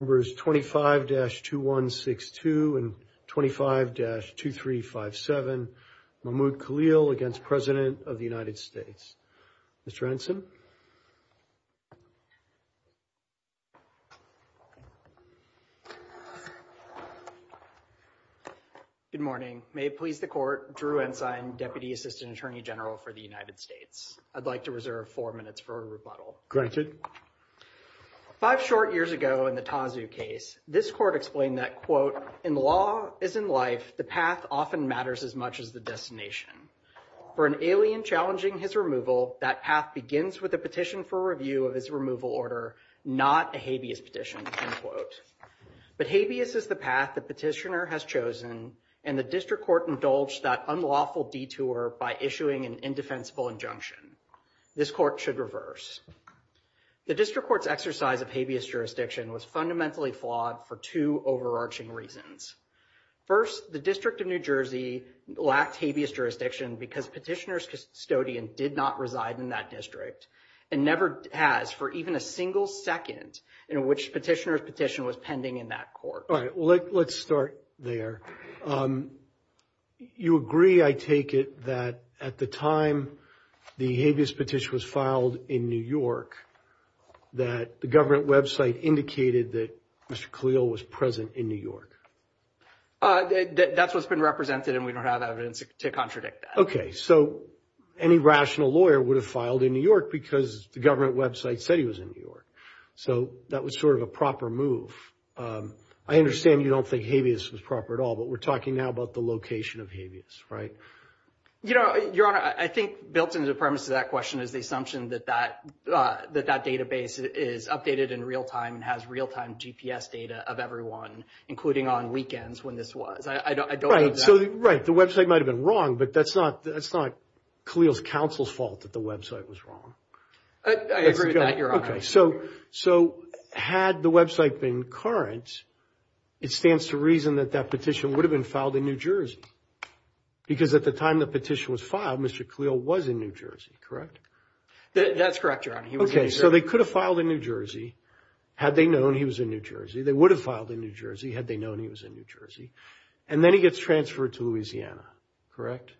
Members 25-2162 and 25-2357, Mahmoud Khalil against President of the United States. Mr. Anson. Good morning. May it please the court, Drew Ensign, Deputy Assistant Attorney General for the United States. I'd like to reserve four minutes for a rebuttal. Granted. Five short years ago in the Tanzu case, this court explained that, quote, in law as in life, the path often matters as much as the destination. For an alien challenging his removal, that path begins with a petition for review of its removal order, not a habeas petition, end quote. But habeas is the path the petitioner has chosen, and the district court indulged that unlawful detour by issuing an indefensible injunction. This court should reverse. The district court's exercise of habeas jurisdiction was fundamentally flawed for two overarching reasons. First, the District of New Jersey lacked habeas jurisdiction because petitioner's custodian did not reside in that district and never has for even a single second in which petitioner's petition was pending in that court. All right. Well, let's start there. You agree, I take it, that at the time the habeas petition was filed in New York, that the government website indicated that Mr. Khalil was present in New York? That's what's been represented and we don't have evidence to contradict that. Okay. So any rational lawyer would have filed in New York because the government website said he was in New York. So that was sort of a proper move. I understand you don't think habeas was proper at all, but we're talking now about the location of habeas, right? You know, Your Honor, I think built into the premise of that question is the assumption that that database is updated in real time and has real-time GPS data of everyone, including on weekends when this was. I don't know that. Right. So, right, the website might have been wrong, but that's not Khalil's counsel's fault that the website was wrong. I agree with that, Your Honor. Okay. So had the website been current, it stands to reason that that petition would have been filed in New Jersey because at the time the petition was filed, Mr. Khalil was in New Jersey, correct? That's correct, Your Honor. Okay. So they could have filed in New Jersey had they known he was in New Jersey. They would have filed in New Jersey had they known he was in New Jersey. And then he gets transferred to Louisiana, correct?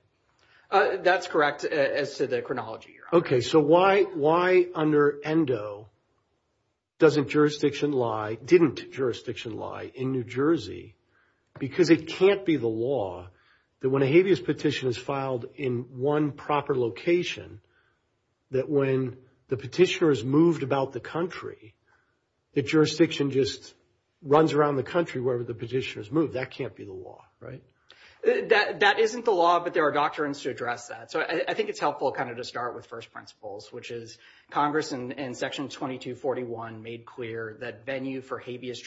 That's correct as to the chronology, Your Honor. Okay. So why under ENDO doesn't jurisdiction lie, didn't jurisdiction lie in New Jersey? Because it can't be the law that when a habeas petition is filed in one proper location that when the petitioner is moved about the country, the jurisdiction just runs around the country wherever the petition is moved. That can't be the law, right? That isn't the law, but there are doctrines to address that. So I think it's helpful kind of to start with first principles, which is Congress in section 2241 made clear that venue for habeas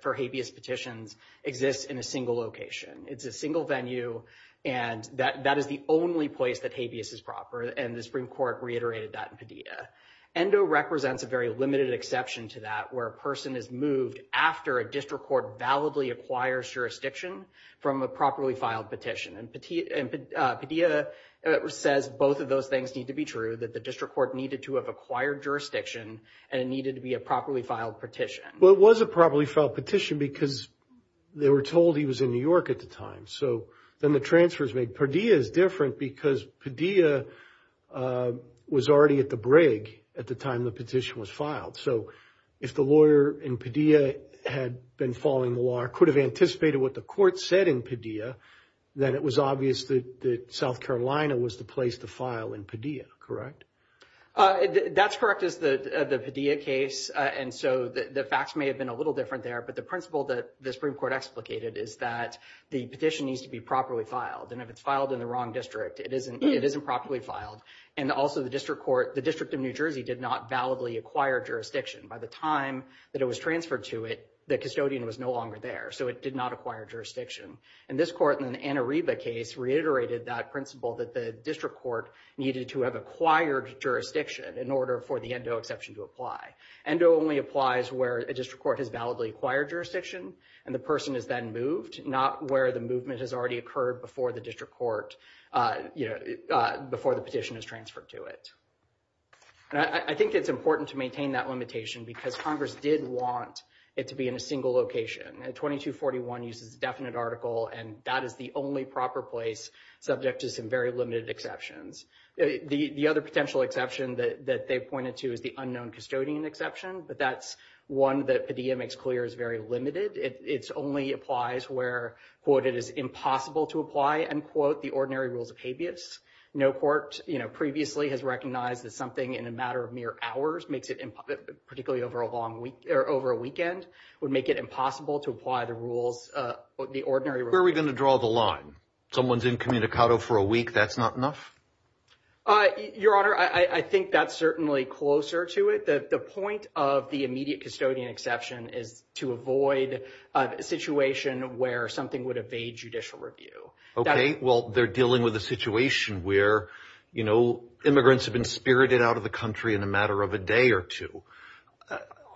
petitions exists in a single location. It's a single venue and that is the only place that habeas is proper, and the Supreme Court reiterated that in Padilla. ENDO represents a very limited exception to that where a person is moved after a district court validly acquires jurisdiction from a properly filed petition, and Padilla says both of those things need to be true, that the district court needed to have acquired jurisdiction and it needed to be a properly filed petition. Well, it was a properly filed petition because they were told he was in New York at the time, so then the transfer is made. Padilla is different because Padilla was already at the brig time the petition was filed. So if the lawyer in Padilla had been following the law or could have anticipated what the court said in Padilla, then it was obvious that South Carolina was the place to file in Padilla, correct? That's correct. It's the Padilla case, and so the facts may have been a little different there, but the principle that the Supreme Court explicated is that the petition needs to be properly filed, and if it's filed in the wrong and also the district court, the district in New Jersey did not validly acquire jurisdiction. By the time that it was transferred to it, the custodian was no longer there, so it did not acquire jurisdiction, and this court in the Anariba case reiterated that principle that the district court needed to have acquired jurisdiction in order for the ENDO exception to apply. ENDO only applies where a district court has validly acquired jurisdiction, and the person has been moved, not where the movement has already occurred before the district petition is transferred to it. I think it's important to maintain that limitation because Congress did want it to be in a single location, and 2241 uses a definite article, and that is the only proper place subject to some very limited exceptions. The other potential exception that they pointed to is the unknown custodian exception, but that's one that Padilla makes clear is very limited. It only applies where, quote, it is impossible to apply, end quote, the ordinary rules of habeas. No court, you know, previously has recognized that something in a matter of mere hours makes it, particularly over a long week or over a weekend, would make it impossible to apply the rules, the ordinary rules. Where are we going to draw the line? Someone's incommunicado for a week, that's not enough? Your Honor, I think that's certainly closer to it. The point of the immediate custodian exception is to avoid a situation where something would evade judicial review. Okay, well, they're dealing with a situation where, you know, immigrants have been spirited out of the country in a matter of a day or two.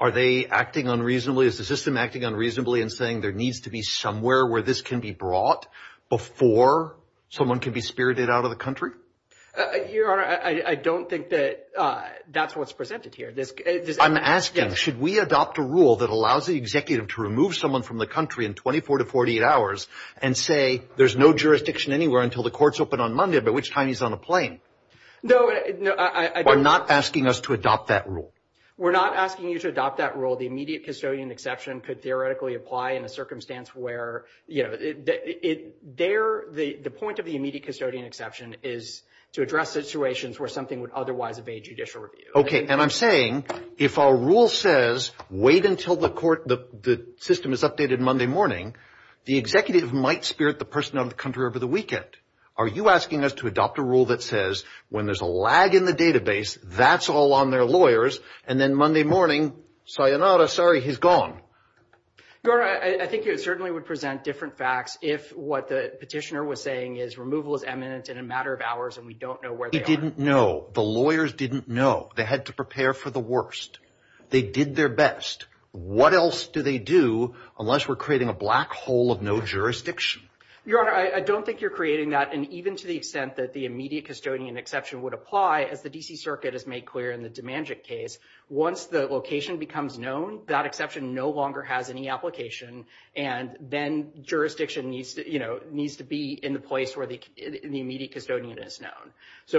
Are they acting unreasonably? Is the system acting unreasonably in saying there needs to be somewhere where this can be brought before someone can be spirited out of the country? Your Honor, I don't think that that's what's presented here. I'm asking, should we adopt a rule that allows the executive to remove someone from the country in 24 to 48 hours and say, there's no jurisdiction anywhere until the court's open on Monday, by which time he's on a plane? No, I... We're not asking us to adopt that rule. We're not asking you to adopt that rule. The immediate custodian exception could theoretically apply in a circumstance where, you know, the point of the immediate custodian exception is to address situations where something would otherwise evade judicial review. Okay, and I'm saying, if our rule says, wait until the court, the system is updated Monday morning, the executive might spirit the person out of the country over the weekend. Are you asking us to adopt a rule that says, when there's a lag in the database, that's all on their lawyers, and then Monday morning, sayonara, sorry, he's gone? Your Honor, I think it certainly would present different facts if what the petitioner was saying is removal is eminent in a matter of hours and we don't know where they are. They didn't know. The lawyers didn't know. They had to prepare for the worst. They did their best. What else do they do unless we're creating a black hole of no jurisdiction? Your Honor, I don't think you're creating that, and even to the extent that the immediate custodian exception would apply, as the D.C. Circuit has made clear in the Demandjic case, once the location becomes known, that exception no longer has any application, and then jurisdiction needs to, you know,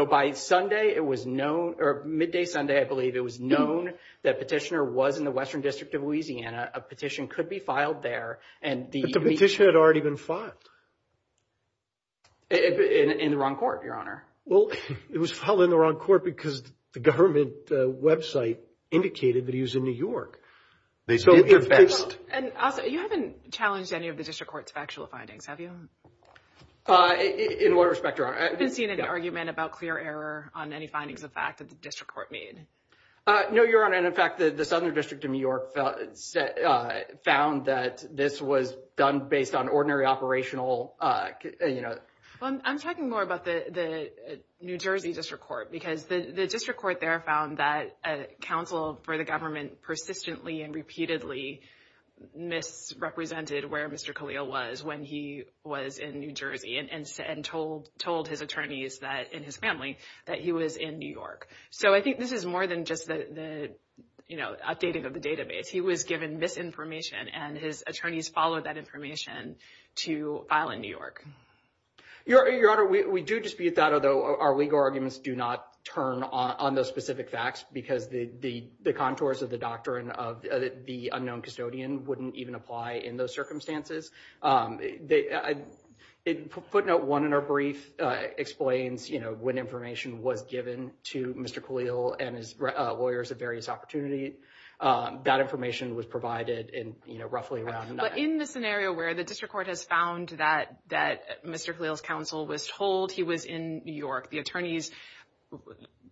by Sunday, it was known, or midday Sunday, I believe, it was known that petitioner was in the Western District of Louisiana. A petition could be filed there. But the petition had already been filed. In the wrong court, Your Honor. Well, it was filed in the wrong court because the government website indicated that he was in New York. You haven't challenged any of the District Court's findings, have you? In what respect, Your Honor? I haven't seen any argument about clear error on any findings of fact that the District Court made. No, Your Honor, and in fact, the Southern District of New York found that this was done based on ordinary operational, you know... I'm talking more about the New Jersey District Court because the District Court there found that a counsel for the government persistently and repeatedly misrepresented where Mr. Khalil was. When he was in New Jersey and told his attorneys that, and his family, that he was in New York. So I think this is more than just the, you know, updating of the database. He was given misinformation, and his attorneys followed that information to file in New York. Your Honor, we do dispute that, although our legal arguments do not turn on those specific facts because the contours of the doctrine of the unknown custodian wouldn't even apply in those circumstances. Put note one in our brief explains, you know, when information was given to Mr. Khalil and his lawyers at various opportunities. That information was provided in, you know, roughly around... But in the scenario where the District Court has found that Mr. Khalil's counsel was told he was in New York, the attorneys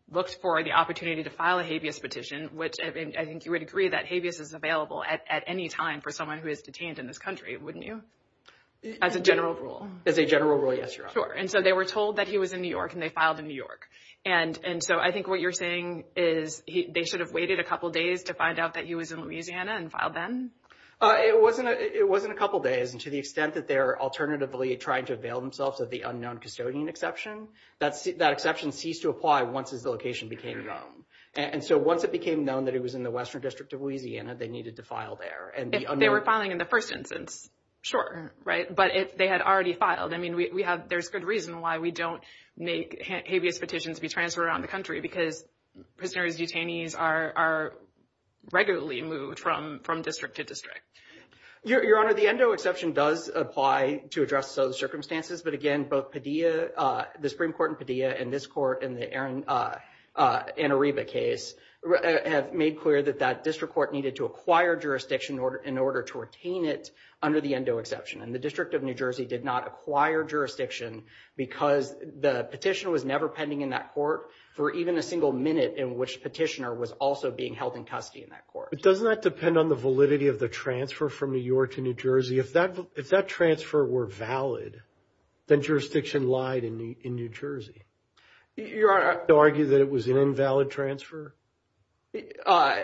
looked for the opportunity to file a habeas petition, which I think you would agree that habeas is available at any time for someone who is detained in this country, wouldn't you? As a general rule. As a general rule, yes, Your Honor. Sure. And so they were told that he was in New York, and they filed in New York. And so I think what you're saying is they should have waited a couple days to find out that he was in Louisiana and filed then? It wasn't a couple days. And to the extent that they're alternatively trying to avail themselves of the unknown custodian exception, that exception ceased to apply once his location became known. And so once it became known that he was in the Western District of Louisiana, they needed to file there. They were filing in the first instance, sure, right? But they had already filed. I mean, there's good reason why we don't make habeas petitions be transferred around the country, because prisoners detainees are regularly moved from district to district. Your Honor, the endo exception does apply to address those circumstances. But again, both Padilla, the Supreme Court in Padilla, and this court in the Ann Arriba case, have made clear that that district court needed to acquire jurisdiction in order to retain it under the endo exception. And the District of New Jersey did not acquire jurisdiction because the petition was never pending in that court for even a single minute in which petitioner was also being held in custody in that court. But doesn't that depend on the validity of the transfer from New York to New Jersey? If that transfer were valid, then jurisdiction lied in New Jersey. Your Honor, do you argue that it was an invalid transfer? Sorry,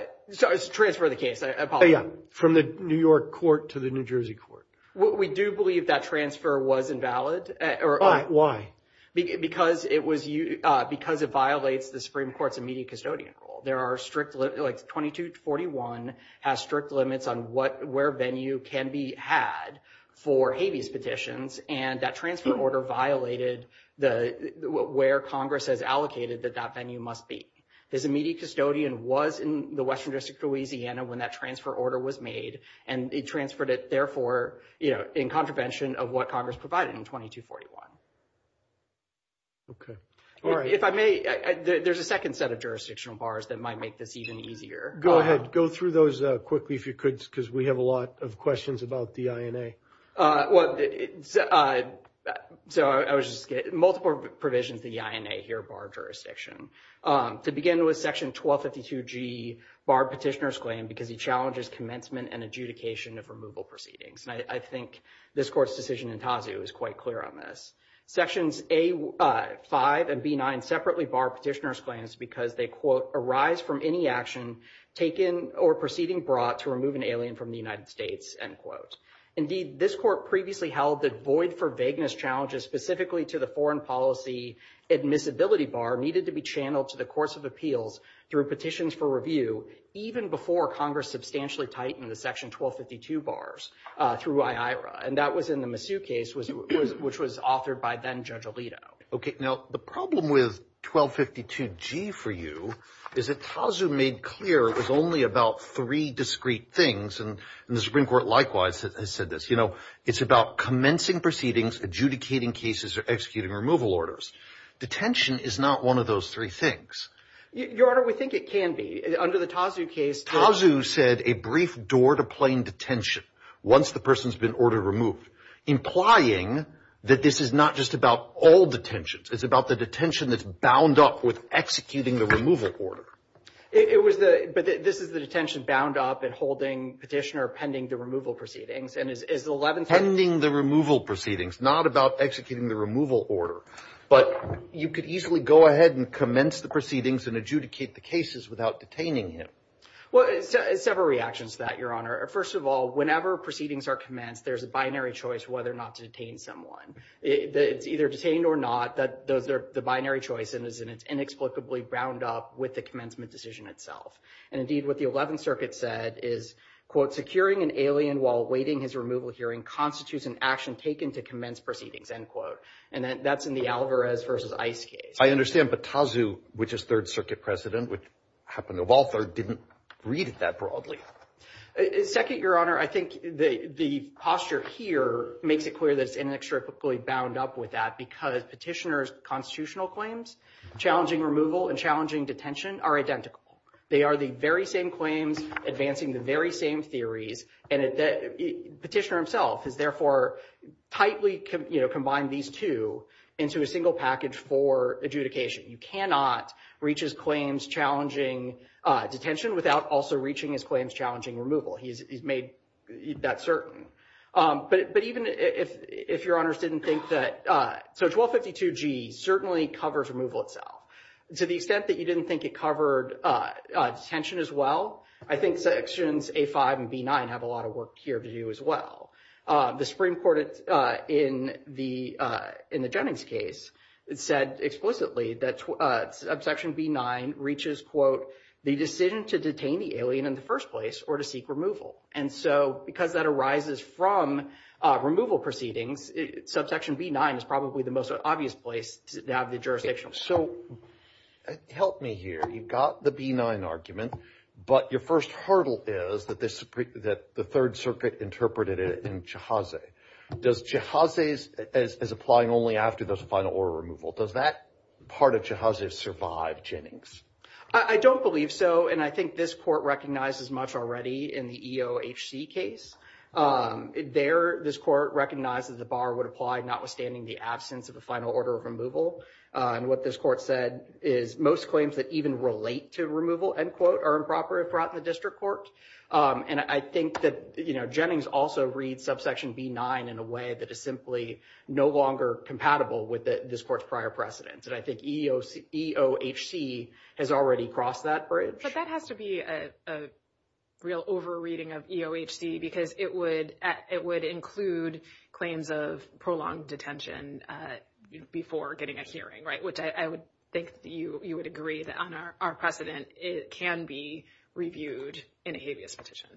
transfer of the case, I apologize. Oh, yeah. From the New York court to the New Jersey court. We do believe that transfer was invalid. Why? Because it violates the Supreme Court's immediate custodian rule. 2241 has strict limits on where venue can be had for habeas petitions, and that transfer order violated where Congress has allocated that that venue must be. His immediate custodian was in the Western District of Louisiana when that transfer order was made, and it transferred it, therefore, in contravention of what Congress provided in 2241. Okay. All right. If I may, there's a second set of jurisdictional bars that might make this even easier. Go ahead. Go through those quickly if you could, because we have a lot of questions about the INA. I was just going to say, multiple provisions of the INA here bar jurisdiction. To begin with, section 1252G bar petitioner's claim because he challenges commencement and adjudication of removal proceedings. I think this court's decision in Tazu is quite clear on this. Sections A5 and B9 separately bar petitioner's claims because they, quote, arise from any action taken or proceeding brought to remove an alien from the United States, end quote. Indeed, this court previously held that void for vagueness challenges specifically to the foreign policy admissibility bar needed to be channeled to the course of appeals through petitions for review, even before Congress substantially tightened the section 1252 bars through IHRA, and that was in the Masu case, which was authored by then Judge Alito. Okay. Now, the problem with 1252G for you is that Tazu made clear it was only about three discrete things, and the Supreme Court likewise said this. You know, it's about commencing proceedings, adjudicating cases, or executing removal orders. Detention is not one of those three things. Your Honor, we think it can be. Under the Tazu case, Tazu said a brief door-to-plane detention once the person's been ordered removed, implying that this is not just about all detentions. It's about the detention that's bound up with executing the removal order. But this is the detention bound up and holding petitioner pending the removal proceedings. Pending the removal proceedings, not about executing the removal order. But you could easily go ahead and commence the proceedings and adjudicate the cases without detaining him. Well, several reactions to that, Your Honor. First of all, whenever proceedings are commenced, there's a binary choice whether or not to detain someone. Either detained or not, the binary choice is inexplicably bound up with the commencement decision itself. And indeed, what the 11th Circuit said is, quote, securing an alien while awaiting his removal hearing constitutes an action taken to commence proceedings, end quote. And that's in the Alvarez versus Ice case. I understand, but Tazu, which is Third Circuit President, which happened to Walther, didn't read it that broadly. Second, Your Honor, I think the posture here makes it clear that it's inexplicably bound up with that because petitioner's constitutional claims, challenging removal and challenging detention, are identical. They are the very same claims advancing the very same theories. And the petitioner himself has therefore tightly combined these two into a single package for adjudication. He cannot reach his claims challenging detention without also reaching his claims challenging removal. He's made that certain. But even if Your Honor didn't think that – so 1252G certainly covers removal itself. To the extent that you didn't think it covered detention as well, I think Sections A5 and B9 have a lot of work here to do as well. The Supreme Court in the Jennings case said explicitly that Section B9 reaches, quote, the decision to detain the alien in the first place or to seek removal. And so because that arises from removal proceedings, Subsection B9 is probably the most obvious place to have the jurisdiction. So help me here. You've got the B9 argument, but your first hurdle is that the Third Circuit interpreted it in chahaze. Does chahaze as applying only after the final order removal, does that part of chahaze survive Jennings? I don't believe so, and I think this court recognizes much already in the EOHC case. There, this court recognized that the bar would apply notwithstanding the absence of the final order of removal. And what this court said is most claims that even relate to removal, end quote, are improper if brought to the district court. And I think that Jennings also reads Subsection B9 in a way that is simply no longer compatible with this court's prior precedents. And I think EOHC has already crossed that bridge. That has to be a real over-reading of EOHC because it would include claims of prolonged detention before getting a hearing, right, which I would think you would agree on our precedent. It can be reviewed in a habeas petition.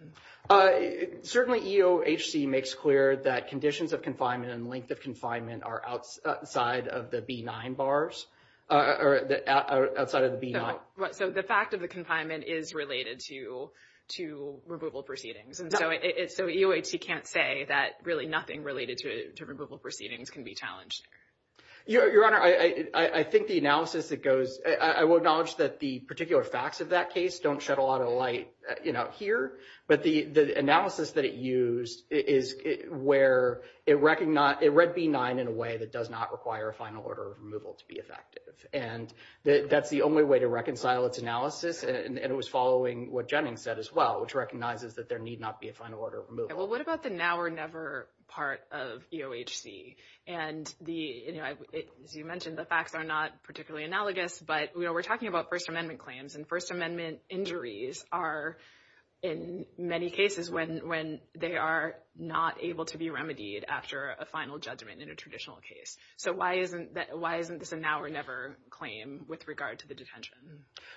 Certainly EOHC makes clear that conditions of confinement and length of confinement are outside of the B9 bars or outside of the B9. So the fact of the confinement is related to removal proceedings. So EOHC can't say that really nothing related to removal proceedings can be challenged. Your Honor, I think the analysis that goes, I will acknowledge that the particular facts of that case don't shed a lot of light here. But the analysis that it used is where it read B9 in a way that does not require a final order of removal to be effective. And that's the only way to reconcile its analysis. And it was following what Jennings said as well, which recognizes that there need not be a final order of removal. Well, what about the now or never part of EOHC? And as you mentioned, the facts are not particularly analogous, but we're talking about First Amendment claims. And First Amendment injuries are in many cases when they are not able to be remedied after a final judgment in a traditional case. So why isn't this a now or never claim with regard to the detention?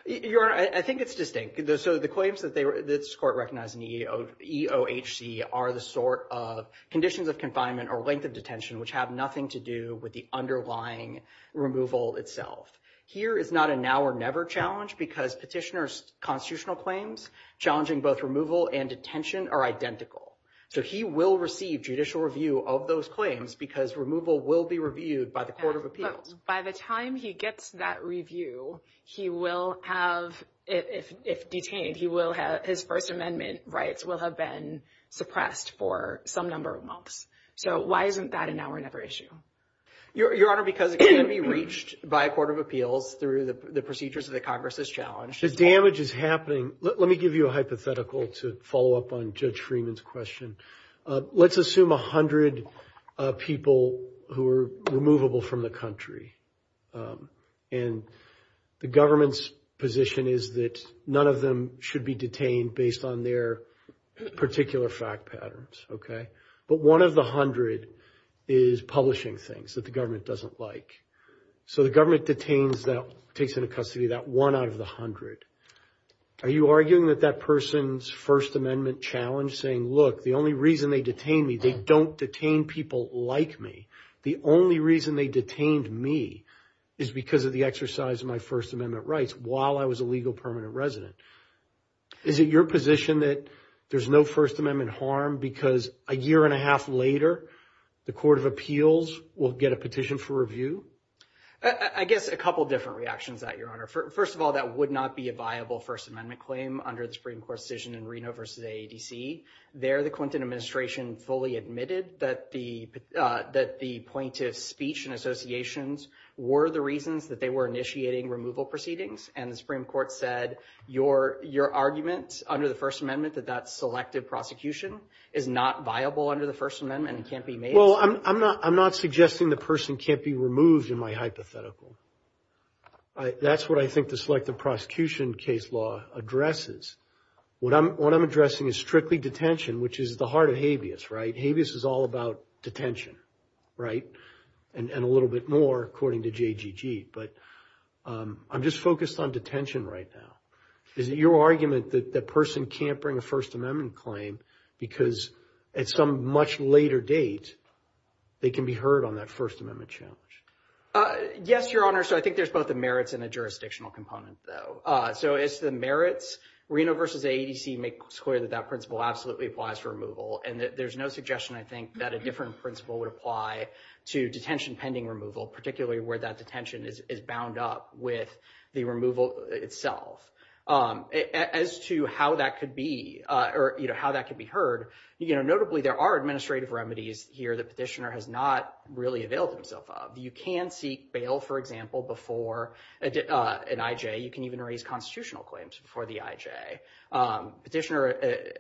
Your Honor, I think it's distinct. So the claims that this court recognized in EOHC are the sort of conditions of confinement or length of detention, which have nothing to do with the underlying removal itself. Here, it's not a now or never challenge because petitioner's constitutional claims challenging both removal and detention are identical. So he will receive judicial review of those claims because removal will be reviewed by the Court of Appeals. But by the time he gets that review, he will have, if detained, his First Amendment rights will have been suppressed for some number of months. So why isn't that a now or never issue? Your Honor, because it can't be reached by a Court of Appeals through the procedures that Congress has challenged. The damage is happening. Let me give you a hypothetical to follow up on Judge Freeman's question. Let's assume 100 people who are removable from the country. And the government's position is that none of them should be detained based on their particular fact patterns, okay? But one of the 100 is publishing things that the government doesn't like. So the government detains that case into custody, that one out of the 100. Are you arguing that that person's First Amendment challenge saying, look, the only reason they detain me, they don't detain people like me. The only reason they detained me is because of the exercise of my First Amendment rights while I was a legal permanent resident. Is it your position that there's no First Amendment harm because a year and a half later, the Court of Appeals will get a petition for review? I guess a couple different reactions to that, Your Honor. First of all, that would not be a viable First Amendment claim under the Supreme Court's decision in Reno v. AADC. There, the Clinton administration fully admitted that the plaintiff's speech and associations were the reasons that they were initiating removal proceedings. And the Supreme Court said, your argument under the First Amendment that that selective prosecution is not viable under the First Amendment and can't be made. Well, I'm not suggesting the person can't be removed in my hypothetical. That's what I think the selective prosecution case law addresses. What I'm addressing is strictly detention, which is the heart of habeas, right? Habeas is all about detention, right? And a little bit more according to JGG. But I'm just focused on detention right now. Is it your argument that that person can't bring a First Amendment claim because at some much later date, they can be heard on that First Amendment challenge? Yes, Your Honor. So I think there's both the merits and the jurisdictional components, though. So it's the merits. Reno v. AADC makes clear that that principle absolutely applies for removal. And there's no suggestion, I think, that a different principle would apply to detention pending removal, particularly where that detention is bound up with the removal itself. As to how that could be or how that could be heard, notably, there are administrative remedies here that the petitioner has not really availed himself of. You can seek bail, for example, before an IJ. You can even raise constitutional claims before the IJ. Petitioner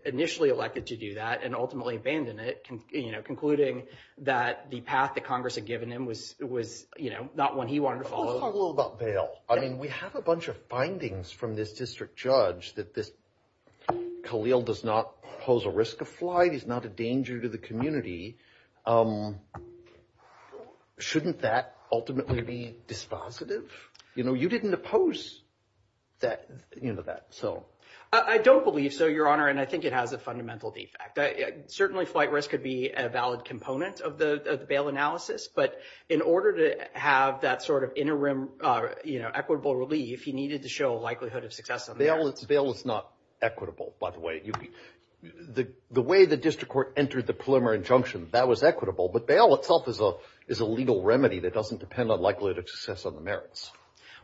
initially elected to do that and ultimately abandoned it, concluding that the path that Congress had given him was not one he wanted to follow. Let's talk a little about bail. I mean, we have a bunch of findings from this district judge that this Khalil does not pose a risk of flight. He's not a danger to the community. Shouldn't that ultimately be dispositive? You know, you didn't oppose that, you know, that. I don't believe so, Your Honor, and I think it has a fundamental defect. Certainly, flight risk could be a valid component of the bail analysis, but in order to have that sort of interim, you know, equitable relief, he needed to show a likelihood of success. Bail is not equitable, by the way. The way the district court entered the preliminary injunction, that was equitable, but bail itself is a legal remedy that doesn't depend on likelihood of success on the merits.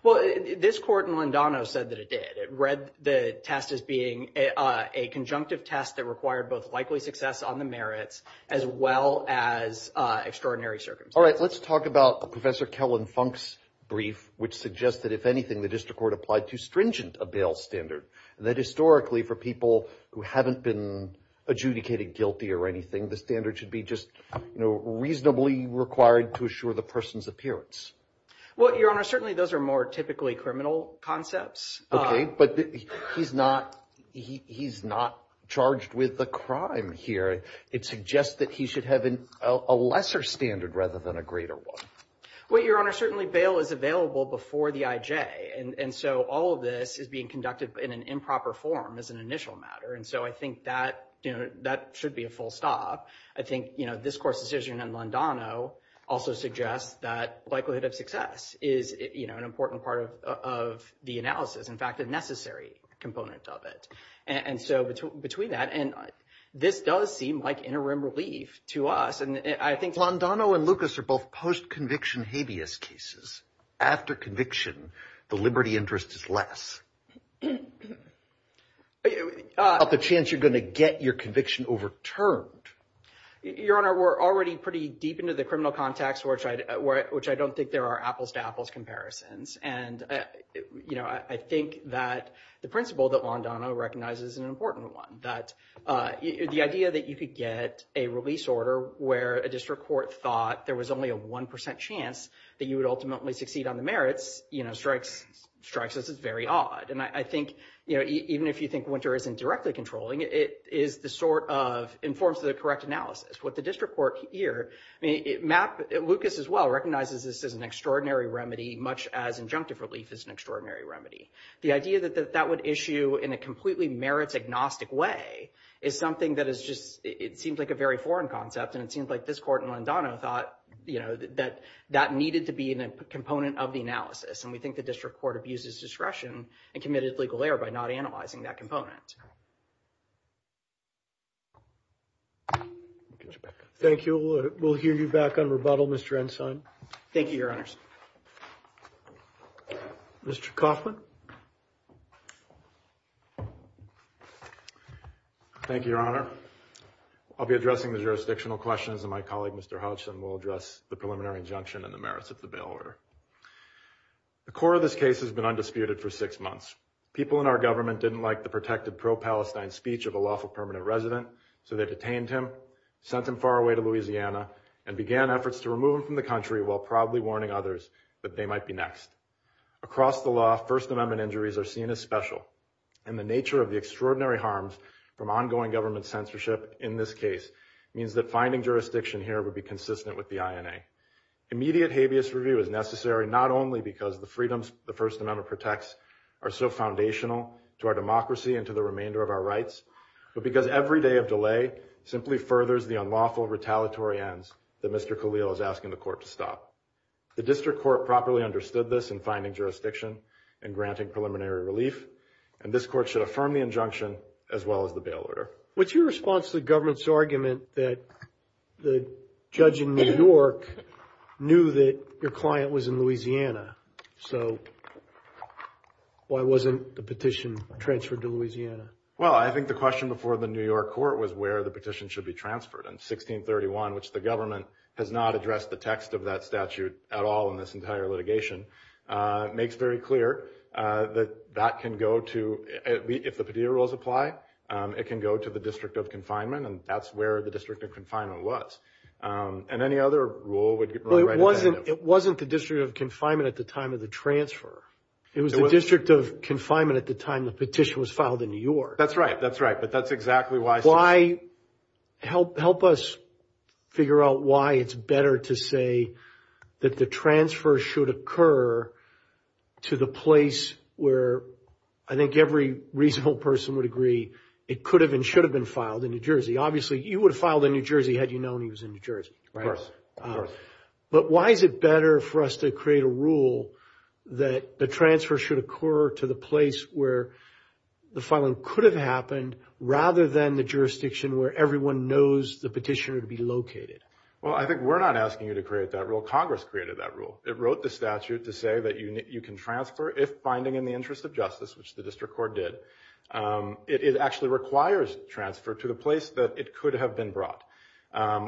Well, this court in Londano said that it did. It read the test as being a conjunctive test that required both likely success on the merits as well as extraordinary circumstances. All right, let's talk about Professor Kellen Funk's brief, which suggested, if anything, the district court applied too stringent a bail standard, and that historically for people who haven't been adjudicated guilty or anything, the standard should be just, you know, reasonably required to assure the person's appearance. Well, Your Honor, certainly those are more typically criminal concepts. Okay, but he's not charged with the crime here. It suggests that he should have a lesser standard rather than a greater one. Well, Your Honor, certainly bail is available before the IJ, and so all of this is being conducted in an improper form as an initial matter, and so I think that, you know, that should be a full stop. I think, you know, this court's decision in Londano also suggests that likelihood of success is, you know, an important part of the analysis, in fact, the necessary components of it. And so between that and this does seem like interim relief to us, and I think Londano and Lucas are both post-conviction habeas cases after conviction, the liberty interest is less. The chance you're going to get your conviction overturned. Your Honor, we're already pretty deep into the criminal context, which I don't think there are apples to apples comparisons, and, you know, I think that the principle that Londano recognizes is an important one, that the idea that you could get a release order where a district court thought there was only a one percent chance that you would ultimately succeed on the merits, you know, strikes us as very odd, and I think, you know, even if you think Winter isn't directly controlling, it is the sort of informs the correct analysis. What the district court here, I mean, Lucas as well recognizes this as an extraordinary remedy, much as injunctive relief is an extraordinary remedy. The idea that that would issue in a completely merit-agnostic way is something that is just, it seems like a very foreign concept, and it seems like this court in Londano thought, you know, that that needed to be in a component of the analysis, and we think the district court abuses discretion and committed legal error by not analyzing that component. Thank you. We'll hear you back on rebuttal, Mr. Ensign. Thank you, Your Honors. Mr. Kaufman. Thank you, Your Honor. I'll be addressing the jurisdictional questions, and my colleague, Mr. Hodgson, will address the preliminary injunction and the merits of the bail order. The core of this case has been undisputed for six months. People in our government didn't like the protected pro-Palestine speech of a lawful permanent resident, so they detained him, sent him far away to Louisiana, and began efforts to remove him from the country while proudly warning others that they might be next. Across the law, First Amendment injuries are seen as special, and the nature of the extraordinary harms from ongoing government censorship in this case means that finding jurisdiction here would be consistent with the INA. Immediate habeas review is necessary not only because the freedoms the First Amendment protects are so foundational to our democracy and to the remainder of our rights, but because every day of delay simply furthers the unlawful retaliatory ends that Mr. Khalil is asking the court to stop. The district court properly understood this in finding jurisdiction and granting preliminary relief, and this court should affirm the injunction as well as the bail order. What's your response to the government's argument that the judge in New York knew that your client was in Louisiana, so why wasn't the petition transferred to Louisiana? Well, I think the question before the New York court was where the petition should be transferred, and 1631, which the government has not addressed the text of that statute at all in this entire litigation, makes very clear that that can go to, if the Padilla rules apply, it can go to the district of confinement, and that's where the district of confinement was, and any other rule would get right. It wasn't the district of confinement at the time of the transfer. It was the district of confinement at the time the petition was filed in New York. That's right, that's right, but that's exactly why. Help us figure out why it's better to say that the transfer should occur to the place where I think every reasonable person would agree it could have and should have been filed in New Jersey. Obviously, you would have filed in New Jersey had you known he was in New Jersey, but why is it better for us to create a rule that the transfer should occur to the place where the filing could have happened rather than the jurisdiction where everyone knows the petitioner to be located? Well, I think we're not asking you to create that rule. Congress created that rule. It wrote the statute to say that you can transfer if finding in the interest of justice, which the district court did. It actually requires transfer to the place that it could have been brought,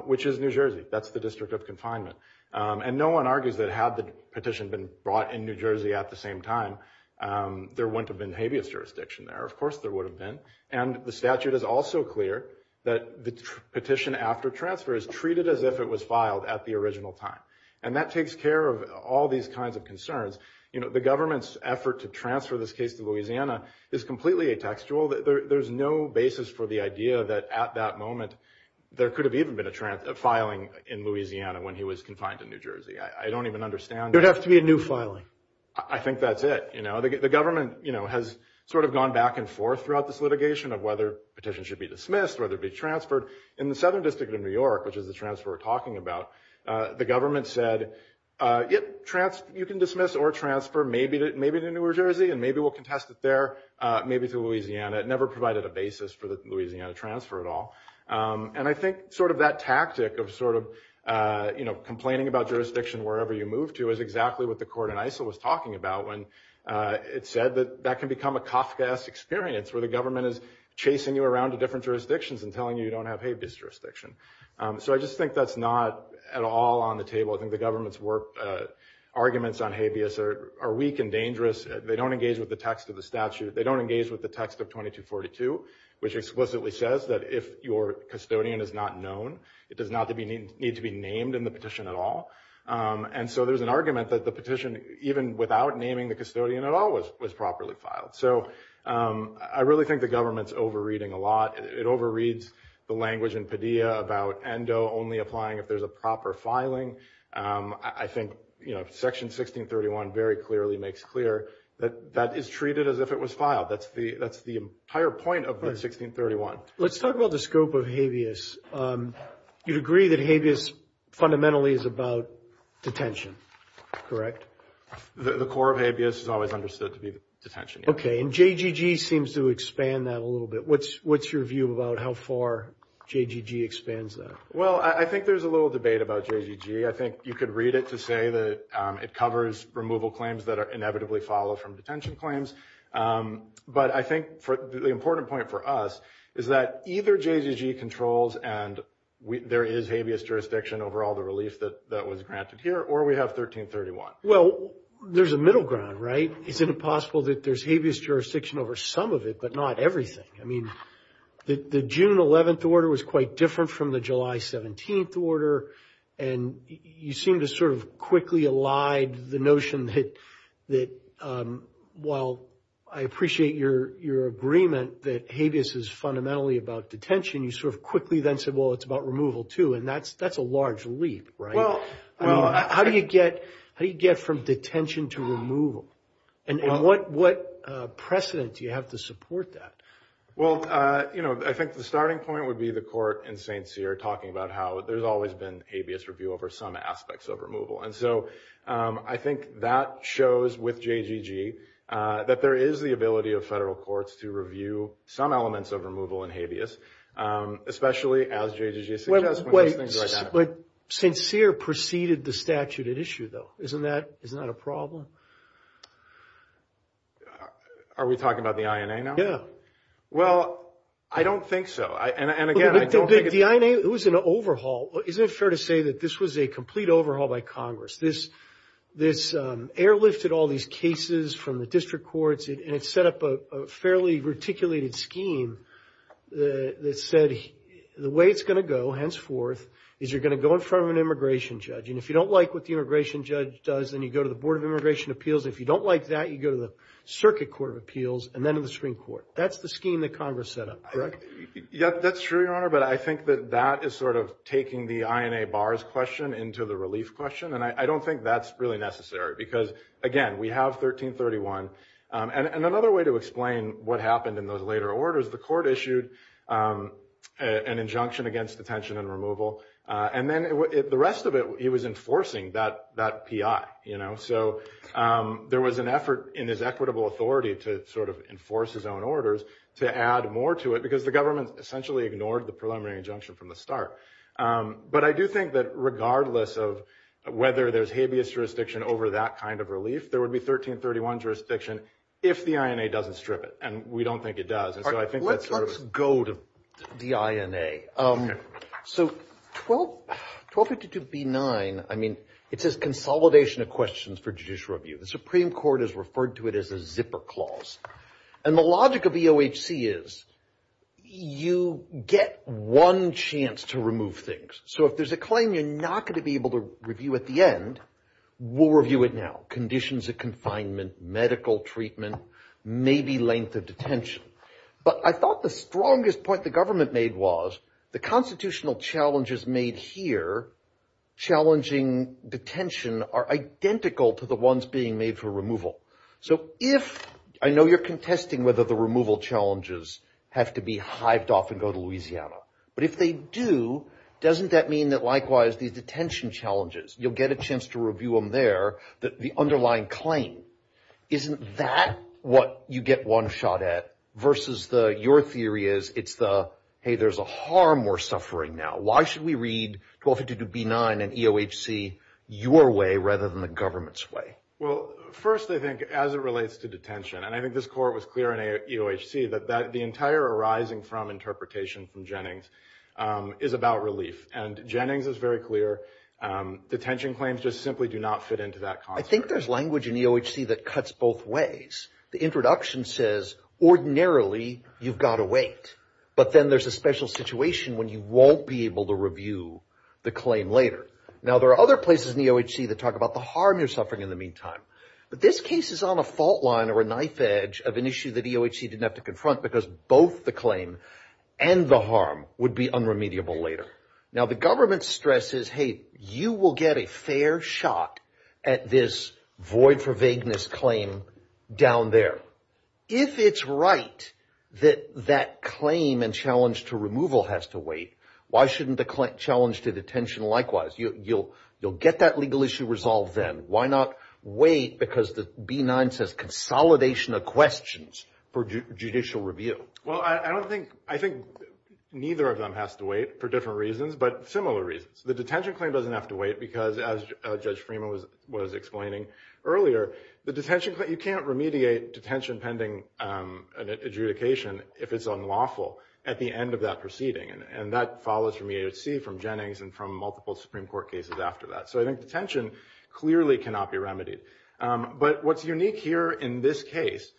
which is New Jersey. That's the district of confinement, and no one argues that had the petition been brought in New Jersey at the same time, there wouldn't have been habeas jurisdiction there. Of course, there would have been, and the statute is also clear that the petition after transfer is treated as if it was filed at the original time, and that takes care of all these kinds of concerns. The government's effort to transfer this case to Louisiana is completely atextual. There's no basis for the idea that at that moment there could have even been a filing in Louisiana when he was confined to New Jersey. I don't even understand- There has to be a new filing. I think that's it. The government has sort of gone back and forth throughout this litigation of whether petitions should be dismissed, whether it be transferred. In the Southern District of New York, which is the transfer we're talking about, the government said, you can dismiss or transfer maybe to New Jersey, and maybe we'll contest it there, maybe to Louisiana. It never provided a basis for the Louisiana transfer at all. And I think sort of that tactic of sort of complaining about jurisdiction wherever you move to is exactly what the court in ISIL was talking about when it said that that can become a tough-ass experience where the government is chasing you around to different jurisdictions and telling you you don't have habeas jurisdiction. So I just think that's not at all on the table. I think the government's arguments on habeas are weak and dangerous. They don't engage with the text of the statute. They don't engage with the text of 2242, which explicitly says that if your custodian is not known, it does not need to be named in the petition at all. And so there's an argument that the petition, even without naming the custodian at all, was properly filed. So I really think the government's overreading a lot. It overreads the language in Padilla about ENDO only applying if there's a proper filing. I think Section 1631 very clearly makes clear that that is treated as if it was filed. That's the entire point of 1631. Let's talk about the scope of habeas. You'd agree that habeas fundamentally is about detention, correct? The core of habeas is always understood to be detention. Okay. And JGG seems to expand that a little bit. What's your view about how far JGG expands that? Well, I think there's a little debate about JGG. I think you could read it to say that it covers removal claims that are inevitably followed from detention claims. But I think the important point for us is that either JGG controls and there is habeas jurisdiction over all the relief that was granted here, or we have 1331. Well, there's a middle ground, right? It's impossible that there's habeas jurisdiction over some of it, but not everything. I mean, the June 11th order was quite different from the July 17th order, and you seem to sort of quickly elide the notion that, while I appreciate your agreement that habeas is fundamentally about detention, you sort of quickly then said, well, it's about removal too. And that's a large leap, right? How do you get from detention to removal? And what precedent do you have to support that? Well, I think the starting point would be the court in St. Cyr talking about how there's always been habeas review over some aspects of removal. And so I think that shows with JGG that there is the ability of federal courts to review some elements of removal and habeas, especially as JGG suggests. But St. Cyr preceded the statute at issue though. Isn't that a problem? Are we talking about the INA now? Yeah. Well, I don't think so. And again, I don't think it's... The INA, it was an overhaul. Isn't it fair to say that this was a complete overhaul by Congress? This airlifted all these cases from the district courts, and it set up a fairly reticulated scheme that said the way it's going to go henceforth is you're going to go in front of an immigration judge. And if you don't like what the immigration judge does, then you go to the Board of Immigration Appeals. If you don't like that, you go to the Circuit Court of Appeals and then in the Supreme Court. That's the scheme that Congress set up, correct? Yeah, that's true, Your Honor. But I think that that is sort of taking the INA bars question into the relief question. And I don't think that's really necessary because, again, we have 1331. And another way to explain what happened in those later orders, the court issued an injunction against detention and removal. And then the rest of it, it was enforcing that PI. So there was an effort in his equitable authority to sort of enforce his own orders to add more to it because the government essentially ignored the preliminary injunction from the start. But I do think that regardless of whether there's habeas jurisdiction over that kind of relief, there would be 1331 jurisdiction if the INA 1252b9, I mean, it says consolidation of questions for judicial review. The Supreme Court has referred to it as a zipper clause. And the logic of the OHC is you get one chance to remove things. So if there's a claim you're not going to be able to review at the end, we'll review it now. Conditions of confinement, medical treatment, maybe length of detention. But I thought the strongest point the government made was the constitutional challenges made here, challenging detention, are identical to the ones being made for removal. So if, I know you're contesting whether the removal challenges have to be hived off and go to Louisiana, but if they do, doesn't that mean that likewise the detention challenges, you'll get a chance to review them there, the underlying claim, isn't that what you get one shot at versus your theory is it's the, hey, there's a harm we're suffering now. Why should we read 1252b9 and EOHC your way rather than the government's way? Well, first, I think as it relates to detention, and I think this court was clear in EOHC, but the entire arising from interpretation from Jennings is about relief. And Jennings is very clear. Detention claims just simply do not fit into that concept. I think there's language in EOHC that cuts both ways. The introduction says ordinarily you've got to wait, but then there's a special situation when you won't be able to review the claim later. Now, there are other places in EOHC that talk about the harm you're suffering in the meantime. But this case is on a fault line or a knife edge of an issue that EOHC didn't have to confront because both the claim and the harm would be unremediable later. Now, the government stresses, hey, you will get a fair shot at this void for vagueness claim down there. If it's right that that claim and challenge to removal has to wait, why shouldn't the challenge to detention likewise? You'll get that legal issue resolved then. Why not wait because the B9 says consolidation of questions for judicial review? Well, I think neither of them has to wait for different reasons, but similar reasons. The detention claim doesn't have to wait because as Judge Freeman was explaining earlier, you can't remediate detention pending an adjudication if it's unlawful at the end of that proceeding. And that follows from EOHC, from Jennings, and from multiple Supreme Court cases after that. So I think detention clearly cannot be remedied. But what's unique here in this case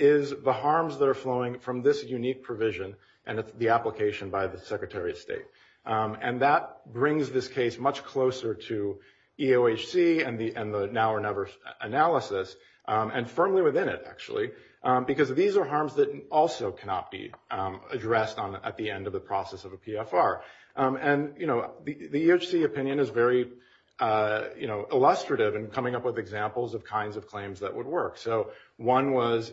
is the harms that are flowing from this unique provision and the application by the state. And that brings this case much closer to EOHC and the now or never analysis and firmly within it, actually, because these are harms that also cannot be addressed at the end of the process of a PFR. And the EOHC opinion is very illustrative in coming up with examples of kinds of claims that would work. So one was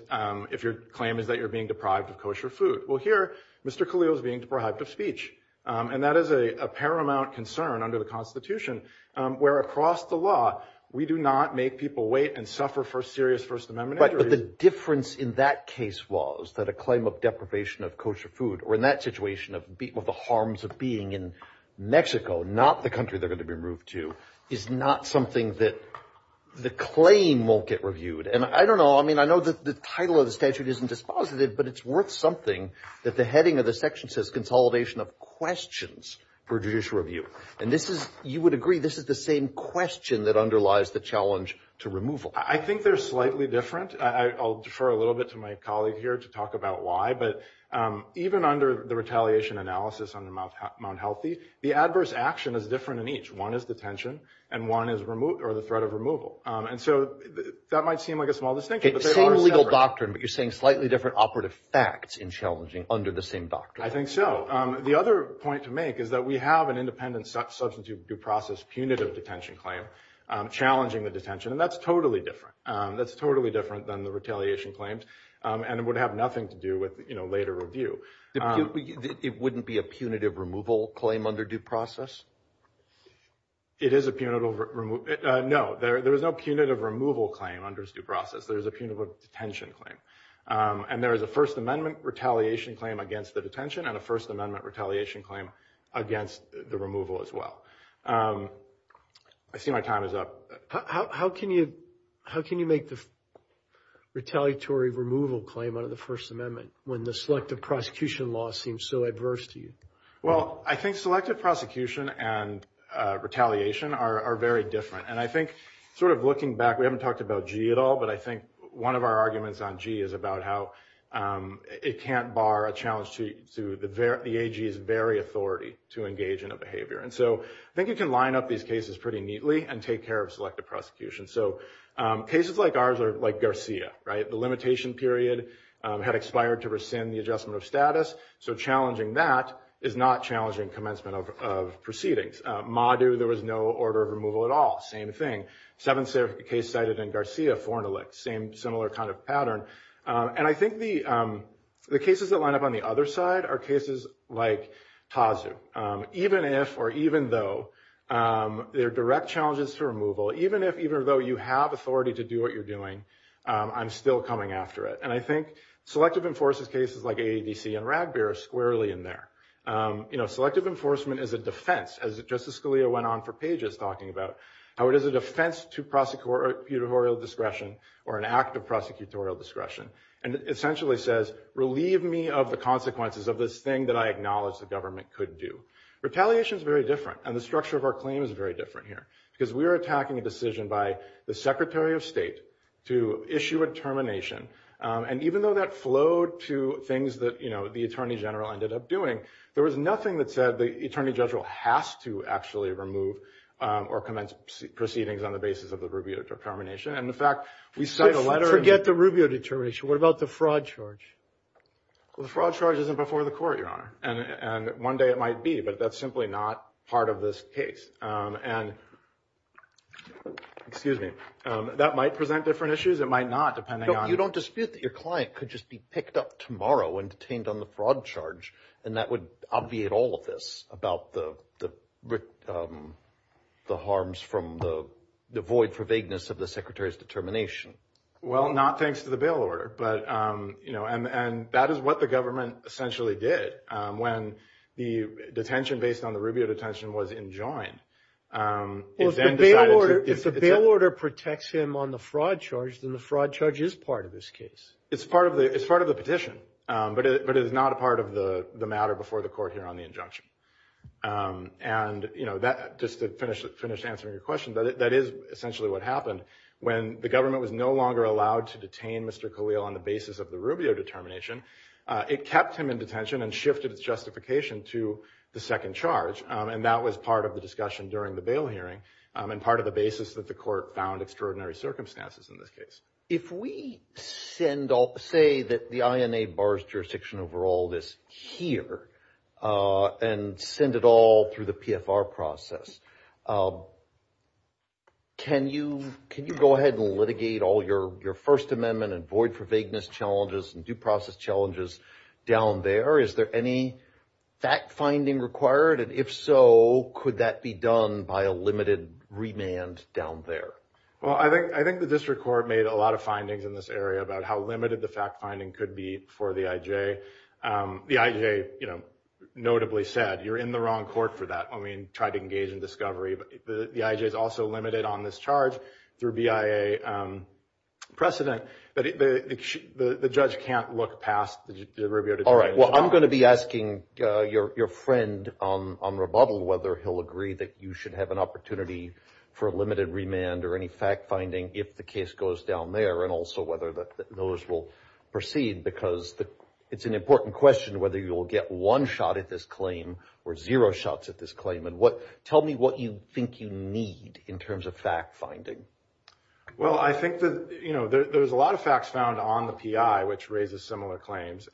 if your claim is that you're being deprived of kosher food. Well, here, Mr. Khalil is being deprived of speech. And that is a paramount concern under the Constitution, where across the law, we do not make people wait and suffer for serious First Amendment issues. But the difference in that case was that a claim of deprivation of kosher food or in that situation of the harms of being in Mexico, not the country they're going to be removed to, is not something that the claim won't get reviewed. And I don't know. I mean, I know that the title of the statute isn't dispositive, but it's worth something that the heading of the section says consolidation of questions for judicial review. And this is, you would agree, this is the same question that underlies the challenge to removal. I think they're slightly different. I'll defer a little bit to my colleague here to talk about why. But even under the retaliation analysis under Mount Healthy, the adverse action is different in each. One is detention and one is the threat of removal. And so that might seem like a small distinction. It's the same legal doctrine, but you're saying slightly different operative facts in challenging under the same doctrine. I think so. The other point to make is that we have an independent substitute due process punitive detention claim challenging the detention. And that's totally different. That's totally different than the retaliation claims. And it would have nothing to do with later review. It wouldn't be a punitive removal claim under due process. It is a punitive removal. No, there is no punitive removal claim under due process. There's a punitive detention claim. And there is a First Amendment retaliation claim against the detention and a First Amendment retaliation claim against the removal as well. I see my time is up. How can you make the retaliatory removal claim under the First Amendment? Well, I think selective prosecution and retaliation are very different. And I think sort of looking back, we haven't talked about G at all, but I think one of our arguments on G is about how it can't bar a challenge to the AG's very authority to engage in a behavior. And so I think you can line up these cases pretty neatly and take care of selective prosecution. So cases like ours are like Garcia, right? The limitation period had expired to rescind the adjustment of status. So challenging that is not challenging commencement of proceedings. Madu, there was no order of removal at all. Same thing. Seventh case cited in Garcia, foreign elect. Same, similar kind of pattern. And I think the cases that line up on the other side are cases like Pazu. Even if or even though there are direct challenges to removal, even if even though you have authority to do what you're doing, I'm still coming after it. And I think selective enforcement cases like AADC and Radbeer are squarely in there. You know, selective enforcement is a defense, as Justice Scalia went on for pages talking about, how it is a defense to prosecutorial discretion or an act of prosecutorial discretion. And essentially says, relieve me of the consequences of this thing that I acknowledge the government could do. Retaliation is very different. And the structure of our claim is very different here, because we are attacking a decision by the Secretary of State to issue a termination. And even though that flowed to things that, you know, the Attorney General ended up doing, there was nothing that said the Attorney General has to actually remove or commence proceedings on the basis of the Rubio determination. And in fact, we sent a letter. Forget the Rubio determination. What about the fraud charge? The fraud charge isn't before the court, Your Honor. And one day it might be, but that's simply not part of this case. And excuse me, that might present different issues. It might not, depending on- You don't dispute that your client could just be picked up tomorrow and detained on the fraud charge. And that would obviate all of this about the harms from the void for vagueness of the Secretary's determination. Well, not thanks to the bail order. But, you know, and that is what the government essentially did when the detention based on the Rubio detention was enjoined. If the bail order protects him on the fraud charge, then the fraud charge is part of this case. It's part of the petition, but it is not a part of the matter before the court here on the injunction. And, you know, just to finish answering your question, that is essentially what happened. When the government was no longer allowed to detain Mr. Khalil on the basis of the Rubio determination, it kept him in detention and shifted its justification to the second charge. And that was part of the discussion during the hearing and part of the basis that the court found extraordinary circumstances in this case. If we send all- say that the INA bars jurisdiction over all this here and send it all through the PFR process, can you go ahead and litigate all your First Amendment and void for vagueness challenges and due process challenges down there? Is there any fact finding required? And if so, could that be done by a limited remand down there? Well, I think the district court made a lot of findings in this area about how limited the fact finding could be for the IJ. The IJ, you know, notably said, you're in the wrong court for that. I mean, tried to engage in discovery, but the IJ is also limited on this charge through BIA precedent. But the judge can't look past the All right. Well, I'm going to be asking your friend on rebuttal whether he'll agree that you should have an opportunity for a limited remand or any fact finding if the case goes down there. And also whether those will proceed, because it's an important question whether you'll get one shot at this claim or zero shots at this claim. And what- tell me what you think you need in terms of fact finding. Well, I think that, you know, there's a lot of facts found on the PI, which raises similar claims.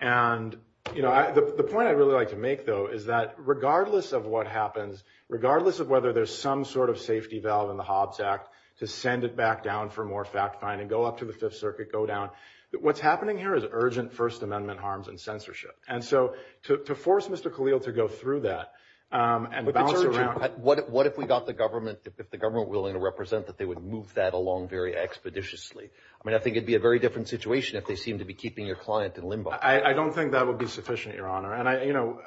And, you know, the point I really like to make, though, is that regardless of what happens, regardless of whether there's some sort of safety valve in the Hobbs Act to send it back down for more fact finding, go up to the Fifth Circuit, go down, what's happening here is urgent First Amendment harms and censorship. And so to force Mr. Khalil to go through that and bounce around- What if we got the government, if the government were willing to represent that they would move that along very expeditiously. I mean, I think it'd be a very different situation if they seemed to be keeping your client in limbo. I don't think that would be sufficient, Your Honor. And I, you know,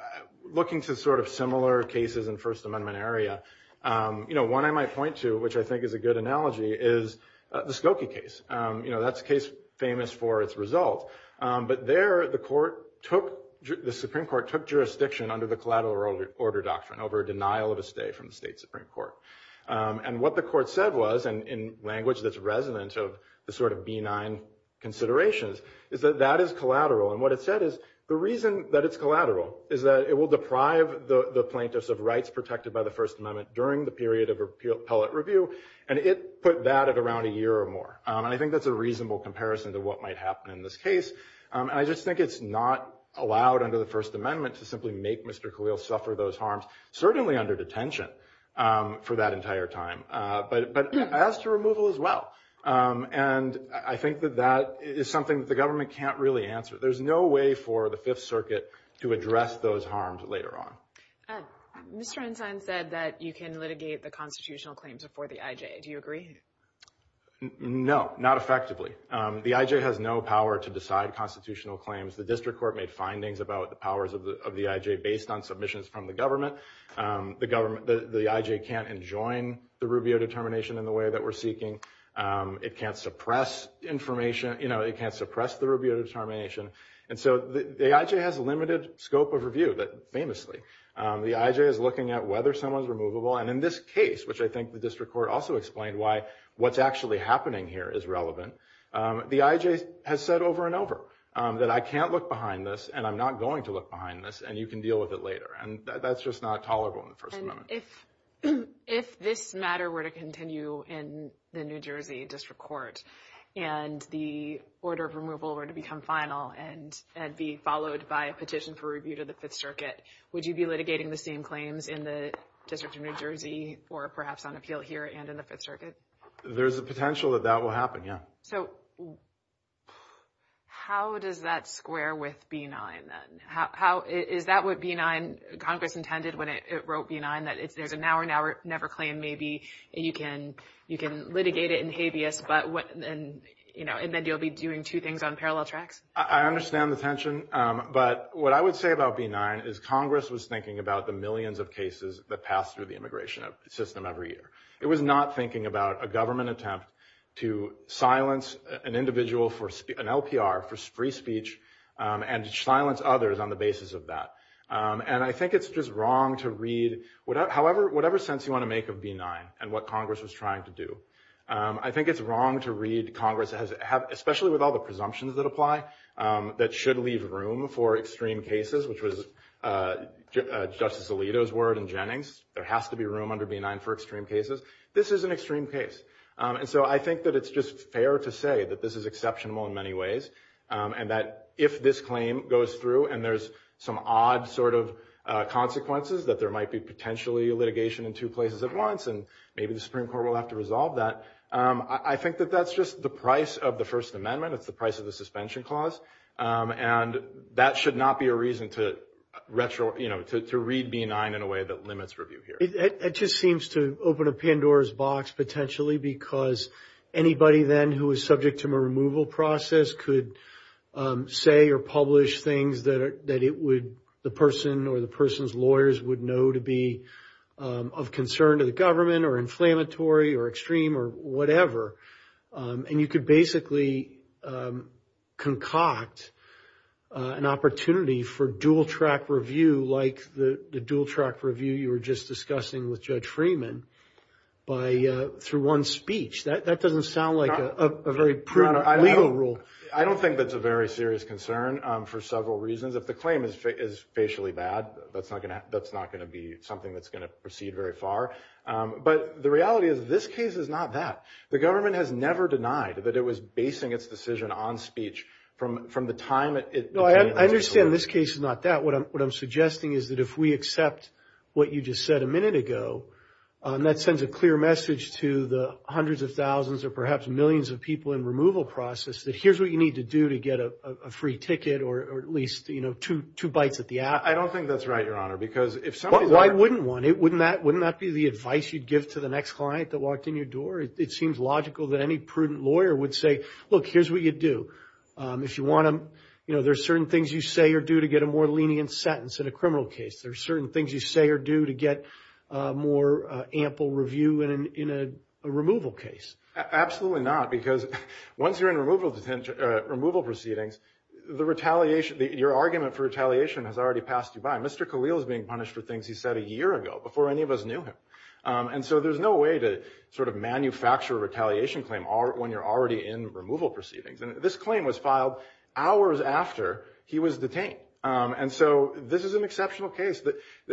looking to sort of similar cases in First Amendment area, you know, one I might point to, which I think is a good analogy, is the Skokie case. You know, that's a case famous for its result. But there the court took- the Supreme Court took jurisdiction under the collateral order doctrine over a denial of a stay from the state Supreme Court. And what the court said was, and in language that's resonant of the sort of benign considerations, is that that is collateral. And what it said is the reason that it's collateral is that it will deprive the plaintiffs of rights protected by the First Amendment during the period of appellate review. And it put that at around a year or more. I think that's a reasonable comparison to what might happen in this case. I just think it's not allowed under the First Amendment to simply make Mr. Khalil suffer those harms, certainly under detention for that entire time, but as to removal as well. And I think that that is something that the government can't really answer. There's no way for the Fifth Circuit to address those harms later on. Mr. Einstein said that you can litigate the constitutional claims before the IJ. Do you agree? No, not effectively. The IJ has no power to decide on submissions from the government. The IJ can't enjoin the review of determination in the way that we're seeking. It can't suppress information. It can't suppress the review of determination. And so the IJ has a limited scope of review, famously. The IJ is looking at whether someone's removable. And in this case, which I think the district court also explained why what's actually happening here is relevant, the IJ has said over and over that I can't look behind this, and I'm going to look behind this, and you can deal with it later. And that's just not tolerable in the First Amendment. And if this matter were to continue in the New Jersey district court and the order of removal were to become final and be followed by a petition for review to the Fifth Circuit, would you be litigating the same claims in the District of New Jersey or perhaps on appeal here and in the Fifth Circuit? There's a potential that that will happen, yeah. So how does that square with B-9, then? Is that what B-9 – Congress intended when it wrote B-9, that if there's an hour-and-hour never claim, maybe you can litigate it in habeas, and then you'll be doing two things on parallel tracks? I understand the tension. But what I would say about B-9 is Congress was thinking about the millions of cases that pass through the immigration system every year. It was not thinking about a to silence an individual for – an LPR for free speech and silence others on the basis of that. And I think it's just wrong to read – however – whatever sense you want to make of B-9 and what Congress was trying to do. I think it's wrong to read Congress as – especially with all the presumptions that apply, that should leave room for extreme cases, which was Justice Alito's and Jennings. There has to be room under B-9 for extreme cases. This is an extreme case. And so I think that it's just fair to say that this is exceptional in many ways and that if this claim goes through and there's some odd sort of consequences, that there might be potentially litigation in two places at once, and maybe the Supreme Court will have to resolve that. I think that that's just the price of the First Amendment. It's the price of the suspension clause. And that should not be a reason to retro – to read B-9 in a way that limits review here. It just seems to open a pinned door's box potentially because anybody then who was subject to a removal process could say or publish things that it would – the person or the person's lawyers would know to be of concern to the government or inflammatory or extreme or whatever. And you could basically concoct an opportunity for dual-track review like the dual-track review you were just discussing with Judge Freeman by – through one speech. That doesn't sound like a very prudent legal rule. I don't think that's a very serious concern for several reasons. If the claim is facially bad, that's not going to be something that's going to proceed very far. But the reality is this case is not that. The government has never denied that it was basing its decision on speech from the time that it – No, I understand this case is not that. What I'm suggesting is that if we accept what you just said a minute ago, that sends a clear message to the hundreds of thousands or perhaps millions of people in the removal process that here's what you need to do to get a free ticket or at least two bites at the app. I don't think that's right, Your Honor, because if somebody – Well, why wouldn't one? Wouldn't that be the advice you'd give to the next client that walked in your door? It seems logical that any prudent lawyer would say, look, here's what you do. If you want to – there's certain things you say or do to get a more lenient sentence in a criminal case. There's certain things you say or do to get more ample review in a removal case. Absolutely not, because once you're in removal detention – removal proceedings, the retaliation – your argument for retaliation has already passed you by. Mr. Khalil is being punished for things he said a year ago, before any of us knew him. And so there's no way to sort of manufacture a retaliation claim when you're already in removal proceedings. And this claim was filed hours after he was detained. And so this is an exceptional case.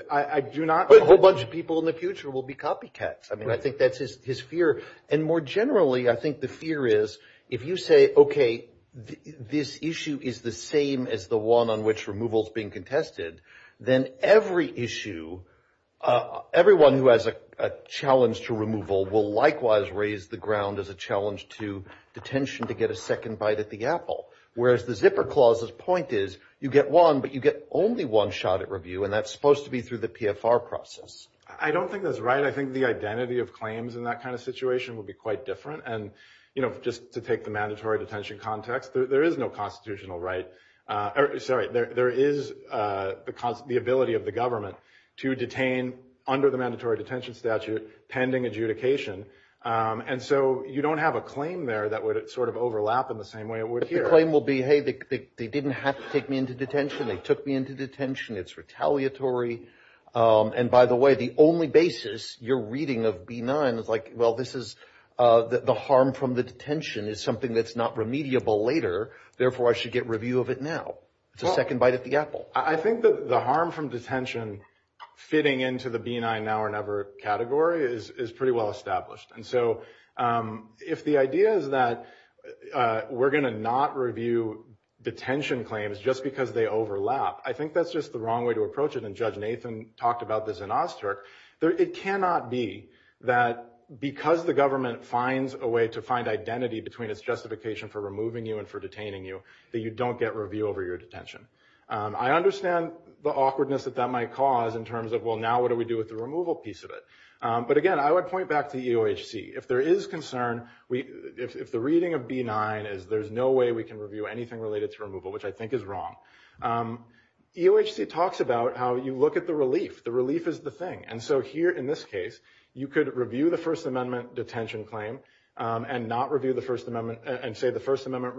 I do not – But a whole bunch of people in the future will be copycats. I mean, I think that's his fear. And more generally, I think the fear is if you say, okay, this issue is the same as the one on which removal is being contested, then every issue – everyone who has a challenge to removal will likewise raise the ground as a challenge to detention to get a second bite at the apple, whereas the Zipper Clause's point is you get one, but you get only one shot at review, and that's supposed to be through the PFR process. I don't think that's right. I think the identity of claims in that kind of situation would be quite different. And just to take the mandatory detention context, there is no constitutional right – sorry, there is the ability of the government to detain under the mandatory detention statute pending adjudication. And so you don't have a claim there that would sort of overlap in the same way it would here. But your claim will be, hey, they didn't have to take me into detention. They took me into detention. It's retaliatory. And by the way, the only basis you're reading of B9 is like, well, this is – the harm from the detention is something that's not remediable later. Therefore, I should get review of it now. It's a second bite at the apple. I think the harm from detention fitting into the B9 now or never category is pretty well established. And so if the idea is that we're going to not review detention claims just because they overlap, I think that's just the way Nathan talked about the Xenoster, it cannot be that because the government finds a way to find identity between its justification for removing you and for detaining you that you don't get review over your detention. I understand the awkwardness that that might cause in terms of, well, now what do we do with the removal piece of it? But again, I would point back to EOHC. If there is concern – if the reading of B9 is there's no way we can review anything related to removal, which I think is wrong. EOHC talks about how you look at the relief. The relief is the thing. And so here in this case, you could review the First Amendment detention claim and not review the First Amendment – and say the First Amendment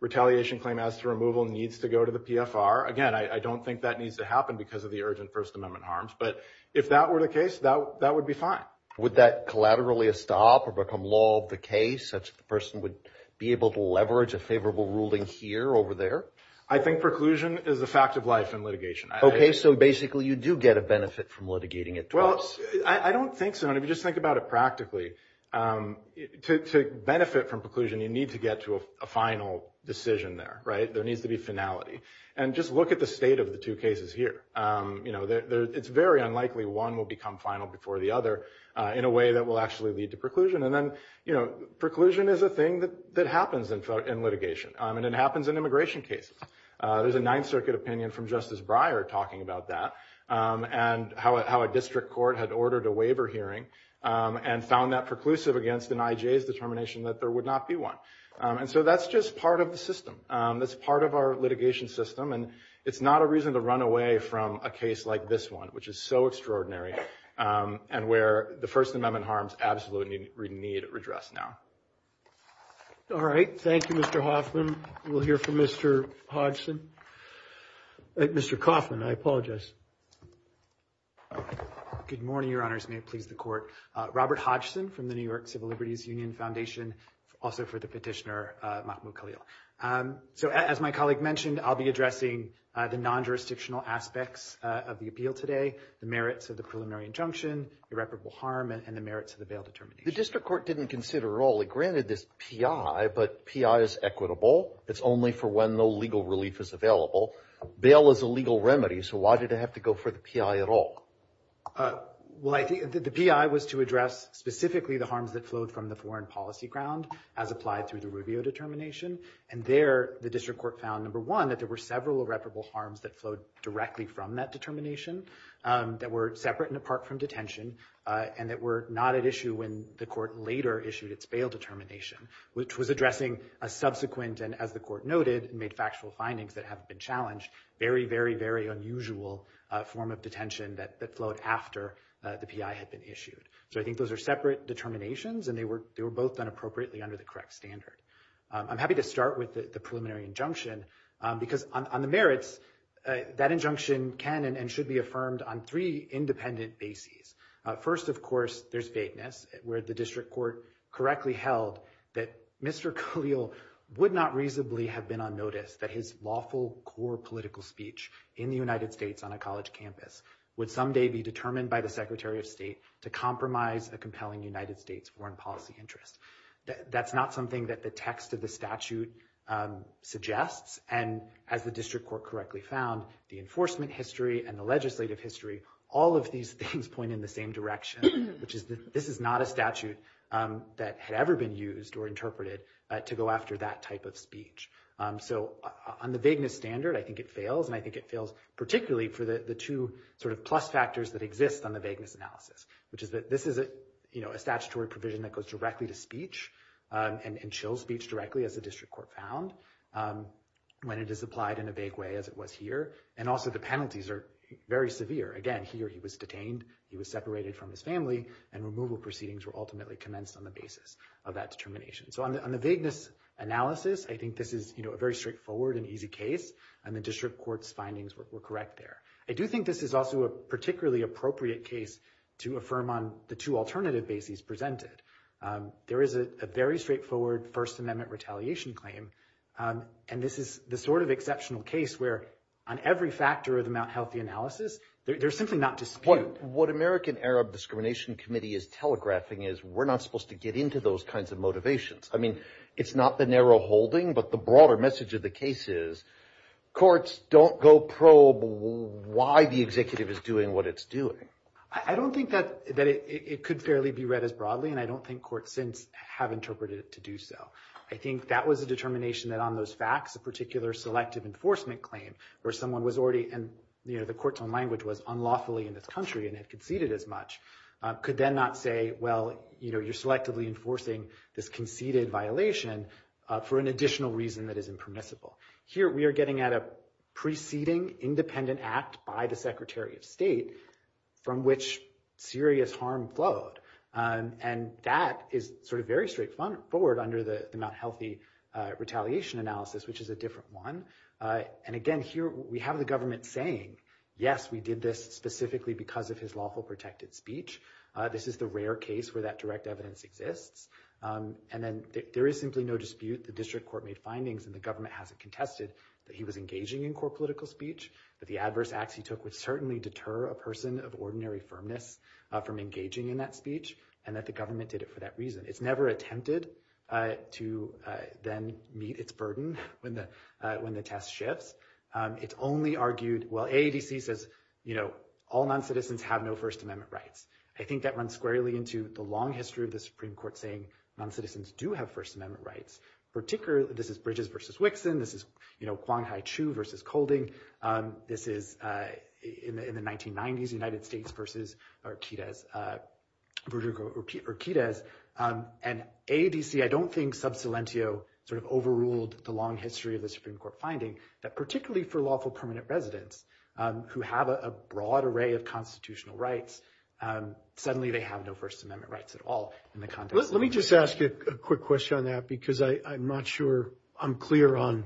retaliation claim as to removal needs to go to the PFR. Again, I don't think that needs to happen because of the urgent First Amendment harms. But if that were the case, that would be fine. MR GOLDSTEIN Would that collaterally stop or become the law of the case, such that the person would be able to leverage a favorable ruling here over there? MR O'BRIEN I think preclusion is a fact of life in litigation. MR GOLDSTEIN Okay, so basically you do get a benefit from litigating it. MR O'BRIEN Well, I don't think so. And if you just think about it practically, to benefit from preclusion, you need to get to a final decision there, right? There needs to be finality. And just look at the state of the two cases here. It's very unlikely one will become final before the other in a way that will actually lead to preclusion. Preclusion is a thing that happens in litigation. And it happens in immigration cases. There's a Ninth Circuit opinion from Justice Breyer talking about that, and how a district court had ordered a waiver hearing and found that preclusive against an IJ's determination that there would not be one. And so that's just part of the system. That's part of our litigation system. And it's not a reason to run away from a case like this which is so extraordinary and where the First Amendment harms absolutely need redress now. MR HOFFMAN All right. Thank you, Mr. Hoffman. We'll hear from Mr. Hodgson. Mr. Hoffman, I apologize. MR HOFFMAN Good morning, Your Honors. May it please the Court. Robert Hodgson from the New York Civil Liberties Union Foundation, also for the petitioner Mahmoud Khalil. So as my colleague mentioned, I'll be addressing the non-jurisdictional aspects of the appeal today, the merits of the preliminary injunction, irreparable harm, and the merits of the bail determination. MR HODGSON The district court didn't consider at all. It granted this P.I., but P.I. is equitable. It's only for when no legal relief is available. Bail is a legal remedy, so why did it have to go for the P.I. at all? MR HODGSON Well, I think the P.I. was to address specifically the harms that flowed from the foreign policy ground as applied to the Rubio determination. And there, the district court found, number one, that there were several irreparable harms that flowed directly from that determination that were separate and apart from detention and that were not at issue when the court later issued its bail determination, which was addressing a subsequent, and as the court noted, made factual findings that haven't been challenged, very, very, very unusual form of detention that flowed after the P.I. had been issued. So I think those are separate determinations, and they were both done appropriately under the correct standard. I'm happy to start with the preliminary injunction, because on the merits, that injunction can and should be affirmed on three independent bases. First, of course, there's bateness, where the district court correctly held that Mr. Khalil would not reasonably have been on notice that his lawful core political speech in the United States on a college campus would someday be determined by the Secretary of State to compromise a compelling United States foreign policy interest. That's not something that the text of the statute suggests, and as the district court correctly found, the enforcement history and the legislative history, all of these things point in the same direction, which is this is not a statute that had ever been used or interpreted to go after that type of speech. So on the bateness standard, I think it fails, and I think it fails particularly for the two sort of plus factors that exist on the bateness analysis, which is that this is a statutory provision that goes directly to speech and chills speech directly, as the district court found, when it is applied in a vague way as it was here, and also the penalties are very severe. Again, here he was detained, he was separated from his family, and removal proceedings were ultimately commenced on the basis of that determination. So on the bateness analysis, I think this is a very straightforward and easy case, and the district court's findings were correct there. I do think this is also a particularly appropriate case to affirm on the two alternative bases presented. There is a very straightforward First Amendment retaliation claim, and this is the sort of exceptional case where on every factor of the Mount Healthy analysis, they're simply not disputed. What American Arab Discrimination Committee is telegraphing is we're not supposed to get into those kinds of motivations. I mean, it's not the narrow holding, but the broader message of the case is courts don't go probe why the executive is doing what it's doing. I don't think that it could fairly be read as broadly, and I don't think courts since have interpreted it to do so. I think that was a determination that on those facts, a particular selective enforcement claim where someone was already, and the court's own language was unlawfully in the country and had conceded as much, could then not say, well, you're selectively enforcing this conceded violation for an additional reason that is impermissible. Here, we are getting at a preceding independent act by the Secretary of State from which serious harm flowed, and that is sort of very straightforward under the Mount Healthy retaliation analysis, which is a different one. And again, here, we have the government saying, yes, we did this specifically because of his lawful protected speech. This is the rare case where that direct evidence exists, and then there is simply no evidence that the district court made findings and the government hasn't contested that he was engaging in core political speech, that the adverse acts he took would certainly deter a person of ordinary firmness from engaging in that speech, and that the government did it for that reason. It's never attempted to then meet its burden when the test shifts. It's only argued, well, AADC says, you know, all noncitizens have no First Amendment rights. I think that runs squarely into the long history of the Supreme Court saying noncitizens do have First Amendment rights, particularly – this is Bridges versus Wixon. This is, you know, Quan Hai Chu versus Kolding. This is, in the 1990s, United States versus Orquidez. And AADC, I don't think, sub silentio sort of overruled the long history of the Supreme Court finding that particularly for lawful permanent residents who have a broad array of constitutional rights, suddenly they have no First Amendment rights at all in the context of – Let me just ask a quick question on that because I'm not sure I'm clear on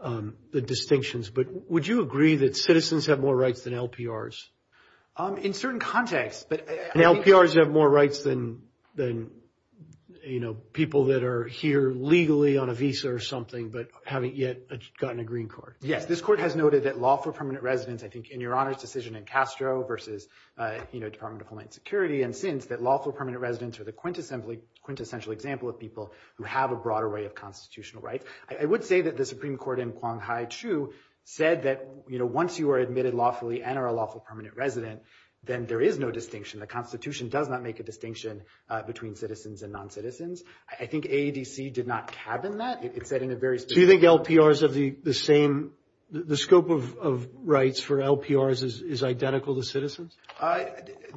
the distinctions, but would you agree that citizens have more rights than LPRs? In certain contexts, but – LPRs have more rights than, you know, people that are here legally on a visa or something, but haven't yet gotten a green card. Yes. This court has noted that lawful permanent residents, I think, in your honors decision in Castro versus, you know, Department of Homeland Security, that lawful permanent residents are the quintessential example of people who have a broad array of constitutional rights. I would say that the Supreme Court in Quan Hai Chu said that, you know, once you are admitted lawfully and are a lawful permanent resident, then there is no distinction. The Constitution does not make a distinction between citizens and noncitizens. I think AADC did not tab in that. It said in a very – So you think LPRs have the same – the scope of rights for LPRs is identical to citizens?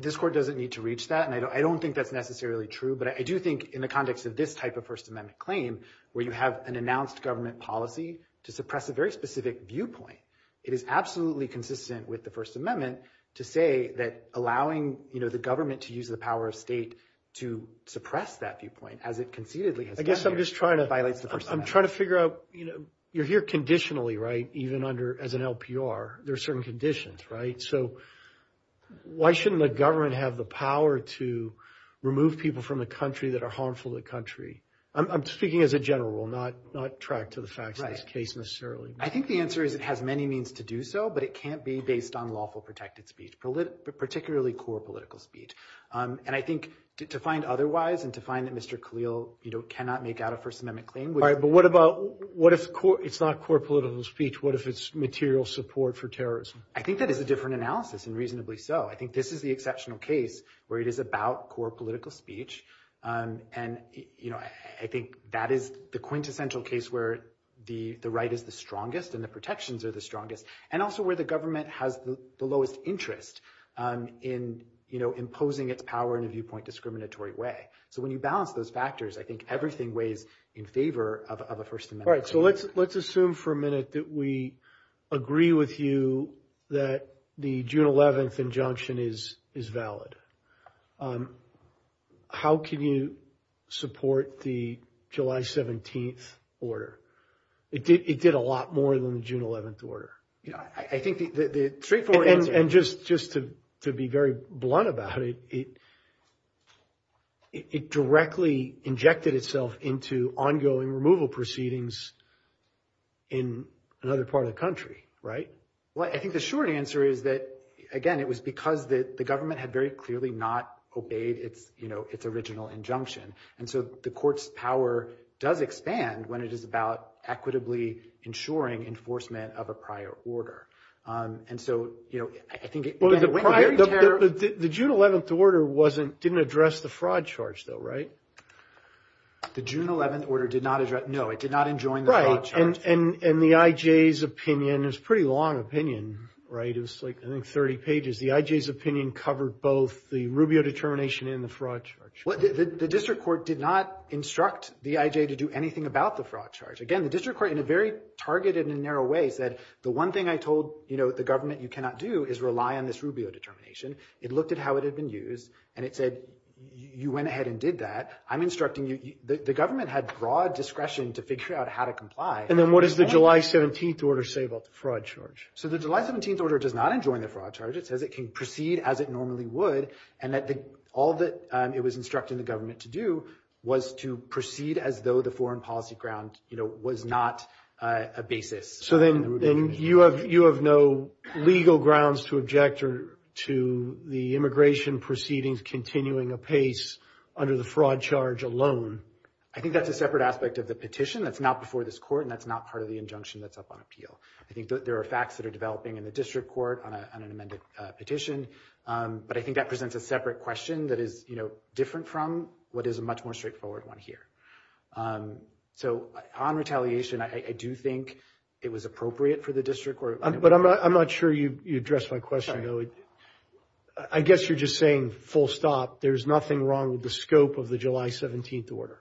This court doesn't need to reach that, and I don't think that's necessarily true, but I do think in the context of this type of First Amendment claim, where you have an announced government policy to suppress a very specific viewpoint, it is absolutely consistent with the First Amendment to say that allowing, you know, the government to use the power of state to suppress that viewpoint as it concededly has done here – I guess I'm just trying to –– violates the First Amendment. I'm trying to figure out – you're here conditionally, right, even under – as an LPR, there are certain conditions, right? So why shouldn't the government have the power to remove people from a country that are harmful to the country? I'm speaking as a general, I'm not trying to the facts of this case necessarily. I think the answer is it has many means to do so, but it can't be based on lawful protected speech, particularly core political speech. And I think to find otherwise and to find that Mr. Khalil, you know, cannot make out a First Amendment claim – All right, but what about – what if – it's not core political speech. What if it's material support for terrorism? I think that is a different analysis and reasonably so. I think this is the exceptional case where it is about core political speech. And, you know, I think that is the quintessential case where the right is the strongest and the protections are the strongest, and also where the government has the lowest interest in, you know, imposing its power in a viewpoint discriminatory way. So when you balance those factors, I think everything weighs in favor of a First Amendment. All right, so let's assume for a minute that we agree with you that the June 11th injunction is valid. How can you support the July 17th order? It did a lot more than the June 11th order. Yeah, I think the straightforward answer – And just to be very blunt about it, it directly injected itself into ongoing removal proceedings in another part of the country, right? Well, I think the short answer is that, again, it was because the government had very clearly not obeyed its, you know, its original injunction. And so the court's power does expand when it is about equitably ensuring enforcement of a prior order. And so, you know, I think – The June 11th order wasn't – didn't address the fraud charge, though, right? The June 11th order did not address – no, it did not enjoin the fraud charge. And the IJ's opinion – it's a pretty long opinion, right? It was like, I think, 30 pages. The IJ's opinion covered both the Rubio determination and the fraud charge. The district court did not instruct the IJ to do anything about the fraud charge. Again, the district court, in a very targeted and narrow way, said, the one thing I told, you know, the government you cannot do is rely on this Rubio determination. It looked at how it had been used, and it said, you went ahead and did that. I'm instructing you – the government had broad discretion to figure out how to comply. And then what does the July 17th order say about the fraud charge? So the July 17th order does not enjoin the fraud charge. It says it can proceed as it normally would, and that all that it was instructing the government to do was to proceed as though the foreign policy ground, you know, was not a basis. So then you have no legal grounds to object to the immigration proceedings continuing apace under the fraud charge alone? I think that's a separate aspect of the petition that's not before this court, and that's not part of the injunction that's up on appeal. I think there are facts that are developing in the district court on an amended petition, but I think that presents a separate question that is, you know, different from what is a much more straightforward one here. So on retaliation, I do think it was appropriate for the district court – But I'm not sure you addressed my question, Billy. I guess you're just saying, full stop, there's nothing wrong with the scope of the July 17th order.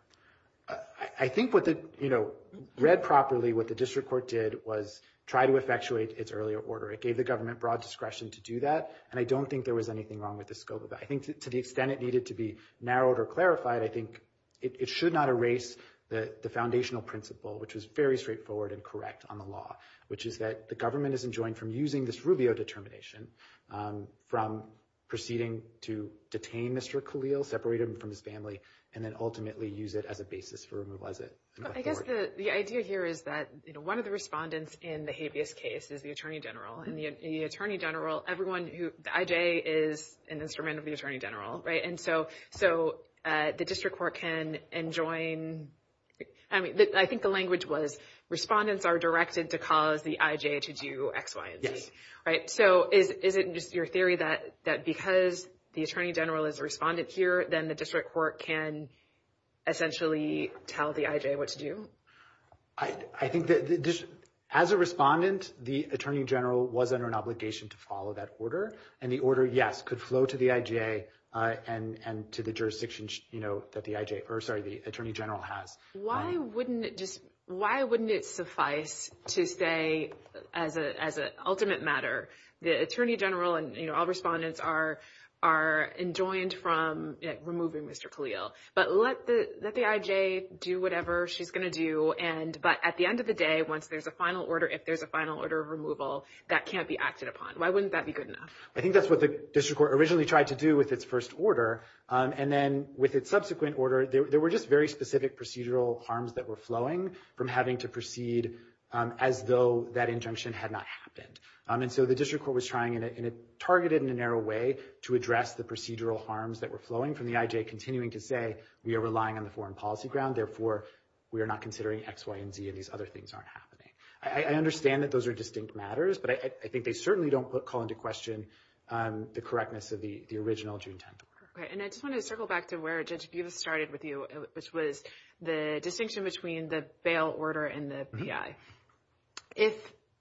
I think what the – you know, read properly, what the district court did was try to effectuate its earlier order. It gave the government broad discretion to do that, and I don't think there was anything wrong with the scope of that. I think to the extent it needed to be narrowed or clarified, I think it should not erase the foundational principle, which is very straightforward and correct on the law, which is that the government is enjoined from using this Rubio determination from proceeding to detain Mr. Khalil, separate him from his family, and then ultimately use it as a basis for removal as it – I guess the idea here is that, you know, one of the respondents in the habeas case is the attorney general, and the attorney general – everyone who – I.J. is an instrument of the attorney general, right? So the district court can enjoin – I mean, I think the language was respondents are directed to cause the I.J. to do X, Y, and Z, right? So is it just your theory that because the attorney general is a respondent here, then the district court can essentially tell the I.J. what to do? I think that as a respondent, the attorney general was under an obligation to follow that order, and the order, yes, could flow to the I.J. and to the jurisdiction, you know, that the I.J. – or, sorry, the attorney general has. Why wouldn't it just – why wouldn't it suffice to say, as an ultimate matter, the attorney general and, you know, all respondents are enjoined from removing Mr. Khalil? But let the I.J. do whatever she's going to do, and – but at the end of the day, once there's a final order, if there's a final order of removal, that can't be acted upon. Why wouldn't that be good enough? I think that's what the district court originally tried to do with its first order, and then with its subsequent order, there were just very specific procedural harms that were flowing from having to proceed as though that interruption had not happened. And so the district court was trying in a targeted and a narrow way to address the procedural harms that were flowing from the I.J., continuing to say we are relying on the foreign policy ground, therefore we are not considering X, Y, and Z, and these other things aren't happening. I understand that those are distinct matters, but I think they certainly don't call into question the correctness of the original June 10th. Right, and I just want to circle back to where Judge Buda started with you, which was the distinction between the bail order and the P.I. If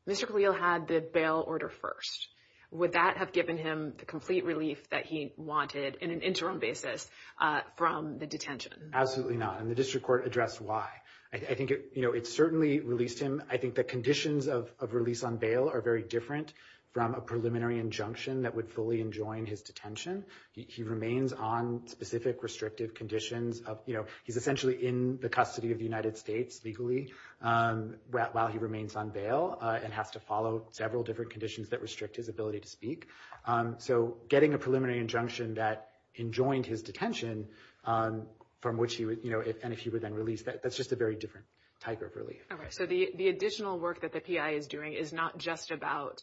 Mr. Khalil had the bail order first, would that have given him the complete relief that he wanted in an interim basis from the detention? Absolutely not, and the district court addressed why. I think it, you know, it certainly released him. I think the conditions of release on bail are very different from a preliminary injunction that would fully enjoin his detention. He remains on specific restrictive conditions of, you know, he's essentially in the custody of the United States legally while he remains on bail and has to follow several different conditions that restrict his ability to speak. So getting a preliminary injunction that enjoined his detention from which he would, you know, and if he was then released, that's just a very different type of relief. So the additional work that the P.I. is doing is not just about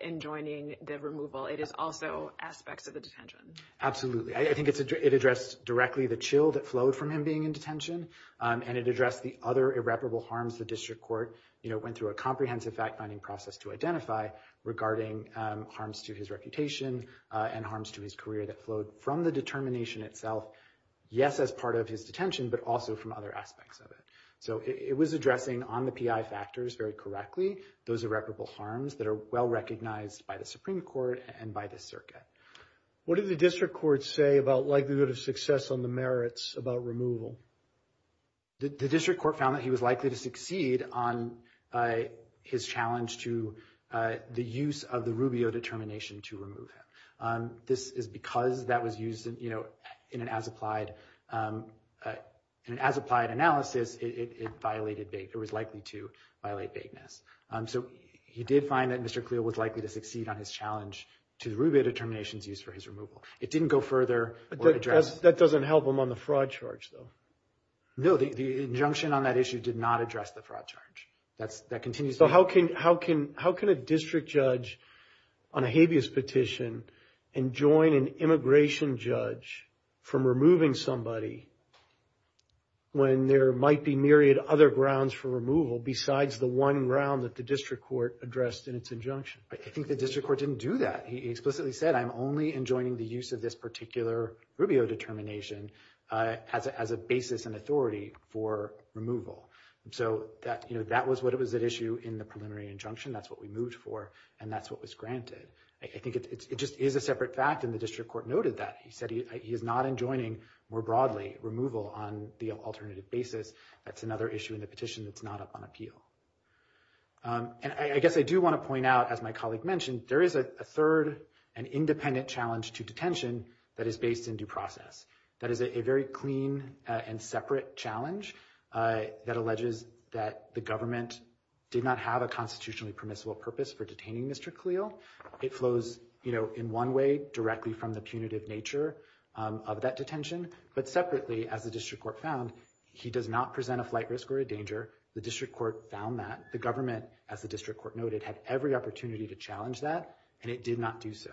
enjoining the removal, it is also aspects of the detention. Absolutely. I think it addressed directly the chill that flowed from him being in detention and it addressed the other irreparable harms the district court, you know, went through a comprehensive fact-finding process to identify regarding harms to his reputation and harms to his career that flowed from the determination itself, yes, as part of his detention, but also from other aspects of it. So it was addressing on the P.I. factors very correctly those irreparable harms that are well recognized by the Supreme Court and by the circuit. What did the district court say about likelihood of success on the merits about removal? The district court found that he was likely to succeed on his challenge to the use of the Rubio determination to remove him. This is because that was used, you know, in an as-applied analysis, it was likely to violate vagueness. So he did find that Mr. Cleel was likely to succeed on his challenge to the Rubio determination's use for his removal. It didn't go further. That doesn't help him on the fraud charge, though. No, the injunction on that issue did not address the fraud charge. That continues. So how can a district judge on a habeas petition enjoin an immigration judge from removing somebody when there might be myriad other grounds for removal besides the one ground that the district court addressed in its injunction? I think the district court didn't do that. He explicitly said, I'm only enjoining the use of this particular Rubio determination as a basis and authority for removal. So that was what was at issue in the preliminary injunction. That's what we moved for, and that's what was granted. I think it just is a separate fact, and the district court noted that. He said he is not enjoining, more broadly, removal on the alternative basis. That's another issue in the petition that's not up on appeal. And I guess I do want to point out, as my colleague mentioned, there is a third and independent challenge to detention that is based in due process. That is a very clean and separate challenge that alleges that the government did not have a constitutionally permissible purpose for detaining Mr. Khalil. It flows in one way directly from the punitive nature of that detention, but separately, as the district court found, he does not present a flight risk or a danger. The district court found that. The government, as the district court noted, had every opportunity to challenge that, and it did not do so.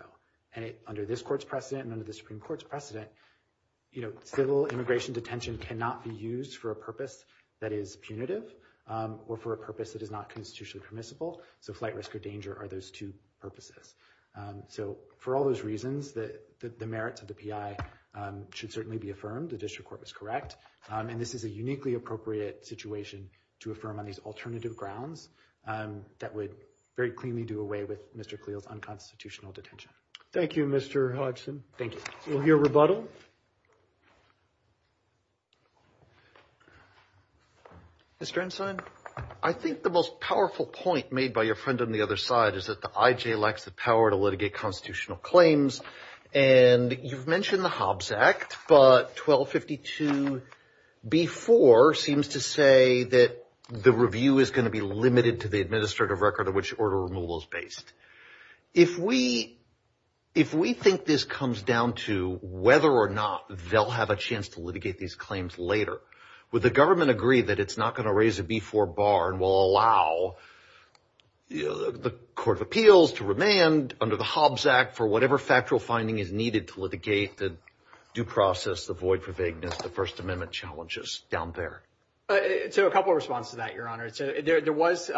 Under this court's precedent and under the Supreme Court's precedent, civil immigration detention cannot be used for a purpose that is punitive or for a purpose that is not constitutionally permissible. So flight risk or danger are those two purposes. So for all those reasons, the merits of the PI should certainly be affirmed. The district court was correct. And this is a uniquely appropriate situation to affirm on these alternative grounds that would very cleanly do away with Mr. Khalil's unconstitutional detention. Thank you, Mr. Hodgson. Thank you. We'll hear rebuttal. Mr. Ensign? I think the most powerful point made by your friend on the other side is that the IJ lacks the power to litigate constitutional claims. And you've mentioned the Hobbs Act, but 1252b4 seems to say that the review is going to be limited to the administrative record of which order removal is based. If we think this comes down to whether or not they'll have a chance to litigate these claims later, would the government agree that it's not going to raise a B4 bar and will allow the Court of Appeals to remand under the Hobbs Act for whatever factual finding is needed to litigate the due process, the void for vagueness, the First Amendment challenges down there? To a couple of response to that, Your Honor. There was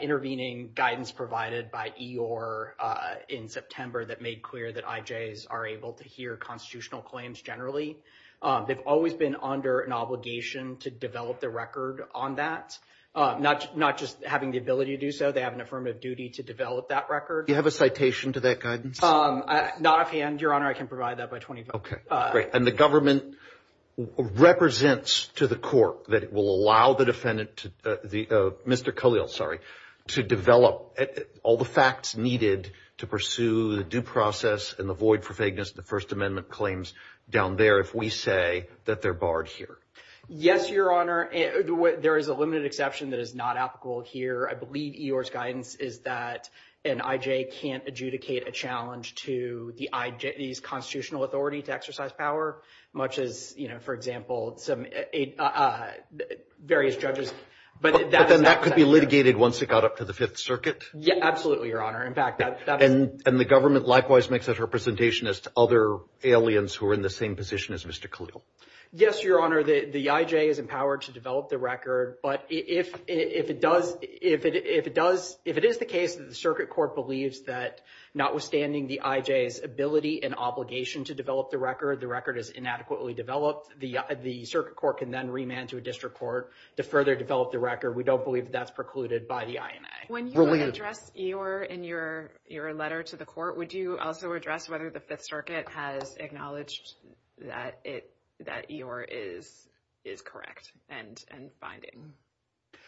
intervening guidance provided by EOIR in September that made clear that IJs are able to hear constitutional claims generally. They've always been under an obligation to develop the record on that, not just having the ability to do so. They have an affirmative duty to develop that record. Do you have a citation to that guidance? Not offhand, Your Honor. I can provide that by 2012. Okay, great. The government represents to the court that it will allow the defendant, Mr. Khalil, sorry, to develop all the facts needed to pursue the due process and the void for vagueness, the First Amendment claims down there if we say that they're barred here. Yes, Your Honor. There is a limited exception that is not applicable here. I believe EOIR's guidance is that an IJ can't adjudicate a challenge to the IJ's constitutional authority to exercise power, much as, you know, for example, some various judges. But then that could be litigated once it got up to the Fifth Circuit? Yeah, absolutely, Your Honor. In fact, that's... And the government likewise makes a representation as to other aliens who are in the same position as Mr. Khalil? Yes, Your Honor. The IJ is empowered to develop the record, but if it does, if it is the case that the record is inadequately developed, the circuit court can then remand to a district court to further develop the record. We don't believe that's precluded by the IMA. When you address EOIR in your letter to the court, would you also address whether the Fifth Circuit has acknowledged that EOIR is correct and binding?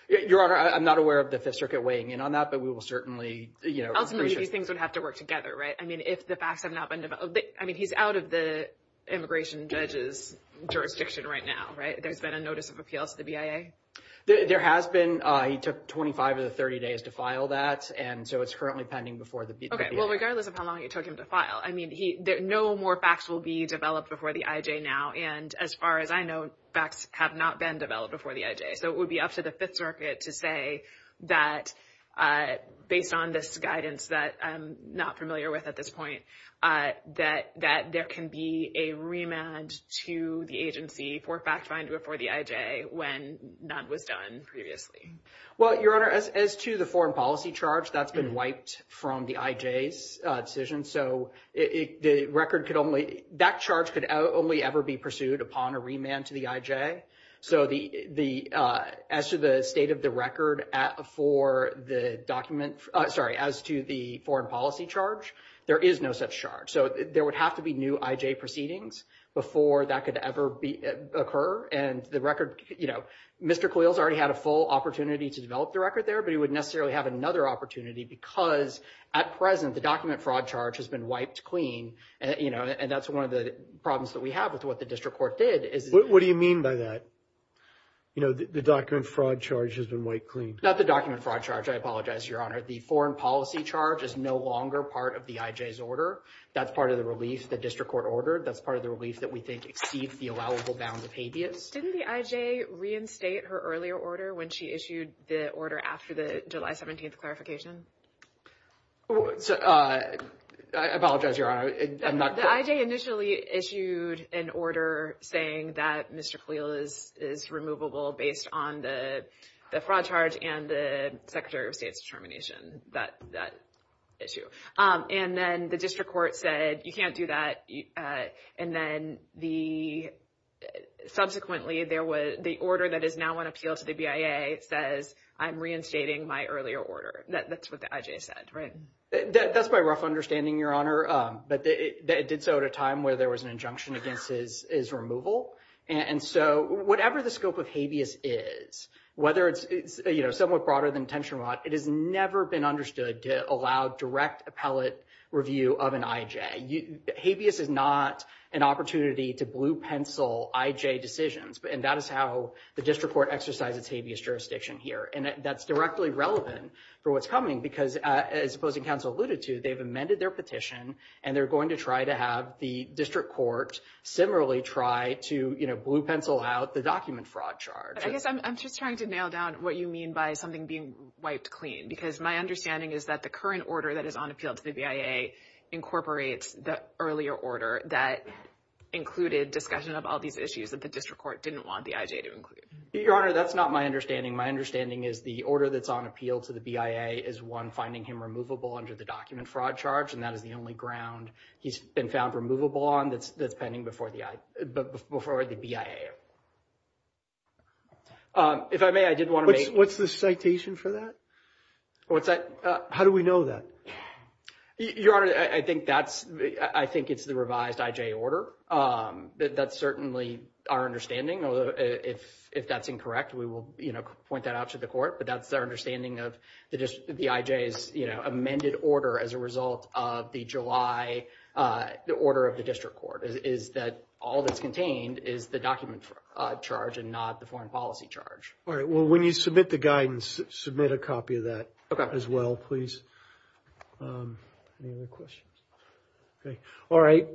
Your Honor, I'm not aware of the Fifth Circuit weighing in on that, but we will certainly... Ultimately, these things would have to work together, right? If the facts have not been developed... I mean, he's out of the immigration judge's jurisdiction right now, right? There's been a notice of appeal to the BIA? There has been. He took 25 of the 30 days to file that, and so it's currently pending before the BIA... Okay. Well, regardless of how long it took him to file, I mean, no more facts will be developed before the IJ now. And as far as I know, facts have not been developed before the IJ. So it would be up to the Fifth Circuit to say that, based on this guidance that I'm not familiar with at this point, that there can be a remand to the agency for fact-finding before the IJ when none was done previously. Well, Your Honor, as to the foreign policy charge, that's been wiped from the IJ's decision. So the record could only... That charge could only ever be pursued upon a remand to the IJ. So as to the state of the record for the document... Sorry, as to the foreign policy charge, there is no such charge. So there would have to be new IJ proceedings before that could ever occur. And the record... Mr. Khalil's already had a full opportunity to develop the record there, but he wouldn't necessarily have another opportunity because, at present, the document fraud charge has been wiped clean, and that's one of the problems that we have with what the district court did is... What do you mean by that? You know, the document fraud charge has been wiped clean. Not the document fraud charge. I apologize, Your Honor. The foreign policy charge is no longer part of the IJ's order. That's part of the release, the district court order. That's part of the release that we think exceeds the allowable bound of habeas. Didn't the IJ reinstate her earlier order when she issued the order after the July 17th I apologize, Your Honor. The IJ initially issued an order saying that Mr. Khalil is removable based on the fraud charge and the Secretary of State's termination, that issue. And then the district court said, you can't do that. And then subsequently, the order that is now on appeal to the BIA says, I'm reinstating my earlier order. That's what the IJ said, right? That's my rough understanding, Your Honor. But it did so at a time where there was an injunction against his removal. And so whatever the scope of habeas is, whether it's, you know, somewhat broader than attention rod, it has never been understood to allow direct appellate review of an IJ. Habeas is not an opportunity to blue pencil IJ decisions. And that is how the district court exercised its habeas jurisdiction here. And that's directly relevant for what's coming, because as opposing counsel alluded to, they've amended their petition and they're going to try to have the district court similarly try to, you know, blue pencil out the document fraud charge. I guess I'm just trying to nail down what you mean by something being wiped clean, because my understanding is that the current order that is on appeal to the BIA incorporates the earlier order that included discussion of all these issues that the district court didn't want the IJ to include. Your Honor, that's not my understanding. My understanding is the order that's on appeal to the BIA is one finding him removable under the document fraud charge. And that is the only ground he's been found removable on that's pending before the BIA. If I may, I did want to make... What's the citation for that? What's that? How do we know that? Your Honor, I think that's, I think it's the revised IJ order. That's certainly our understanding. If that's incorrect, we will, you know, point that out to the court, but that's our understanding of the IJ's, you know, amended order as a result of the July, the order of the district court is that all that's contained is the document fraud charge and not the foreign policy charge. All right. Well, when you submit the guidance, submit a copy of that as well, please. Any other questions? Okay. All right.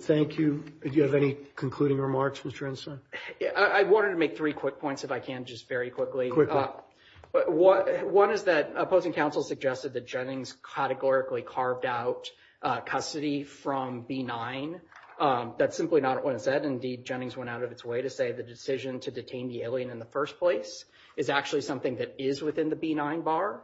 Thank you. Did you have any concluding remarks, Mr. Ensign? I wanted to make three quick points if I can, just very quickly. But one is that opposing counsel suggested that Jennings categorically carved out custody from B9. That's simply not what it said. Indeed, Jennings went out of its way to say the decision to detain the alien in the first place is actually something that is within the B9 bar.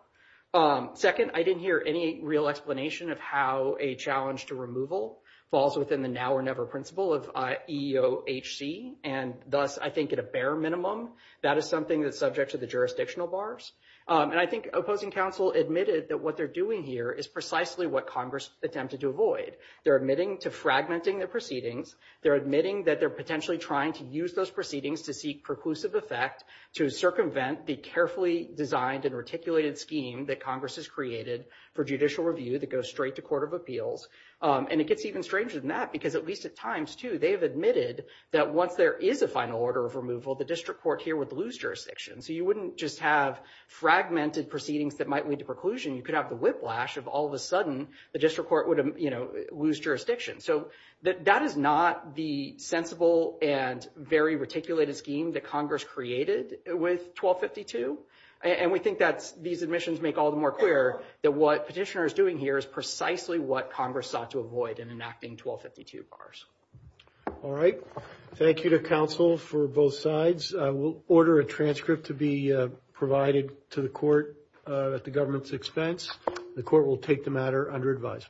Second, I didn't hear any real explanation of how a challenge to removal falls within the now or never principle of EEOHC. And thus, I think at a bare minimum, that is something that's subject to the jurisdictional bars. And I think opposing counsel admitted that what they're doing here is precisely what Congress attempted to avoid. They're admitting to fragmenting their proceedings. They're admitting that they're potentially trying to use those proceedings to seek preclusive effect to circumvent the carefully designed and articulated scheme that Congress has created for judicial review that goes straight to court of appeals. And it gets even stranger than that because at least at times, too, they've admitted that once there is a final order of removal, the district court here would lose jurisdiction. So you wouldn't just have fragmented proceedings that might lead to preclusion. You could have the whiplash of all of a sudden the district court would lose jurisdiction. So that is not the sensible and very articulated scheme that Congress created with 1252. And we think that these admissions make all the more clear that what petitioner is doing here is precisely what Congress sought to avoid in enacting 1252 bars. All right. Thank you to counsel for both sides. I will order a transcript to be provided to the court at the government's expense. The court will take the matter under advisement.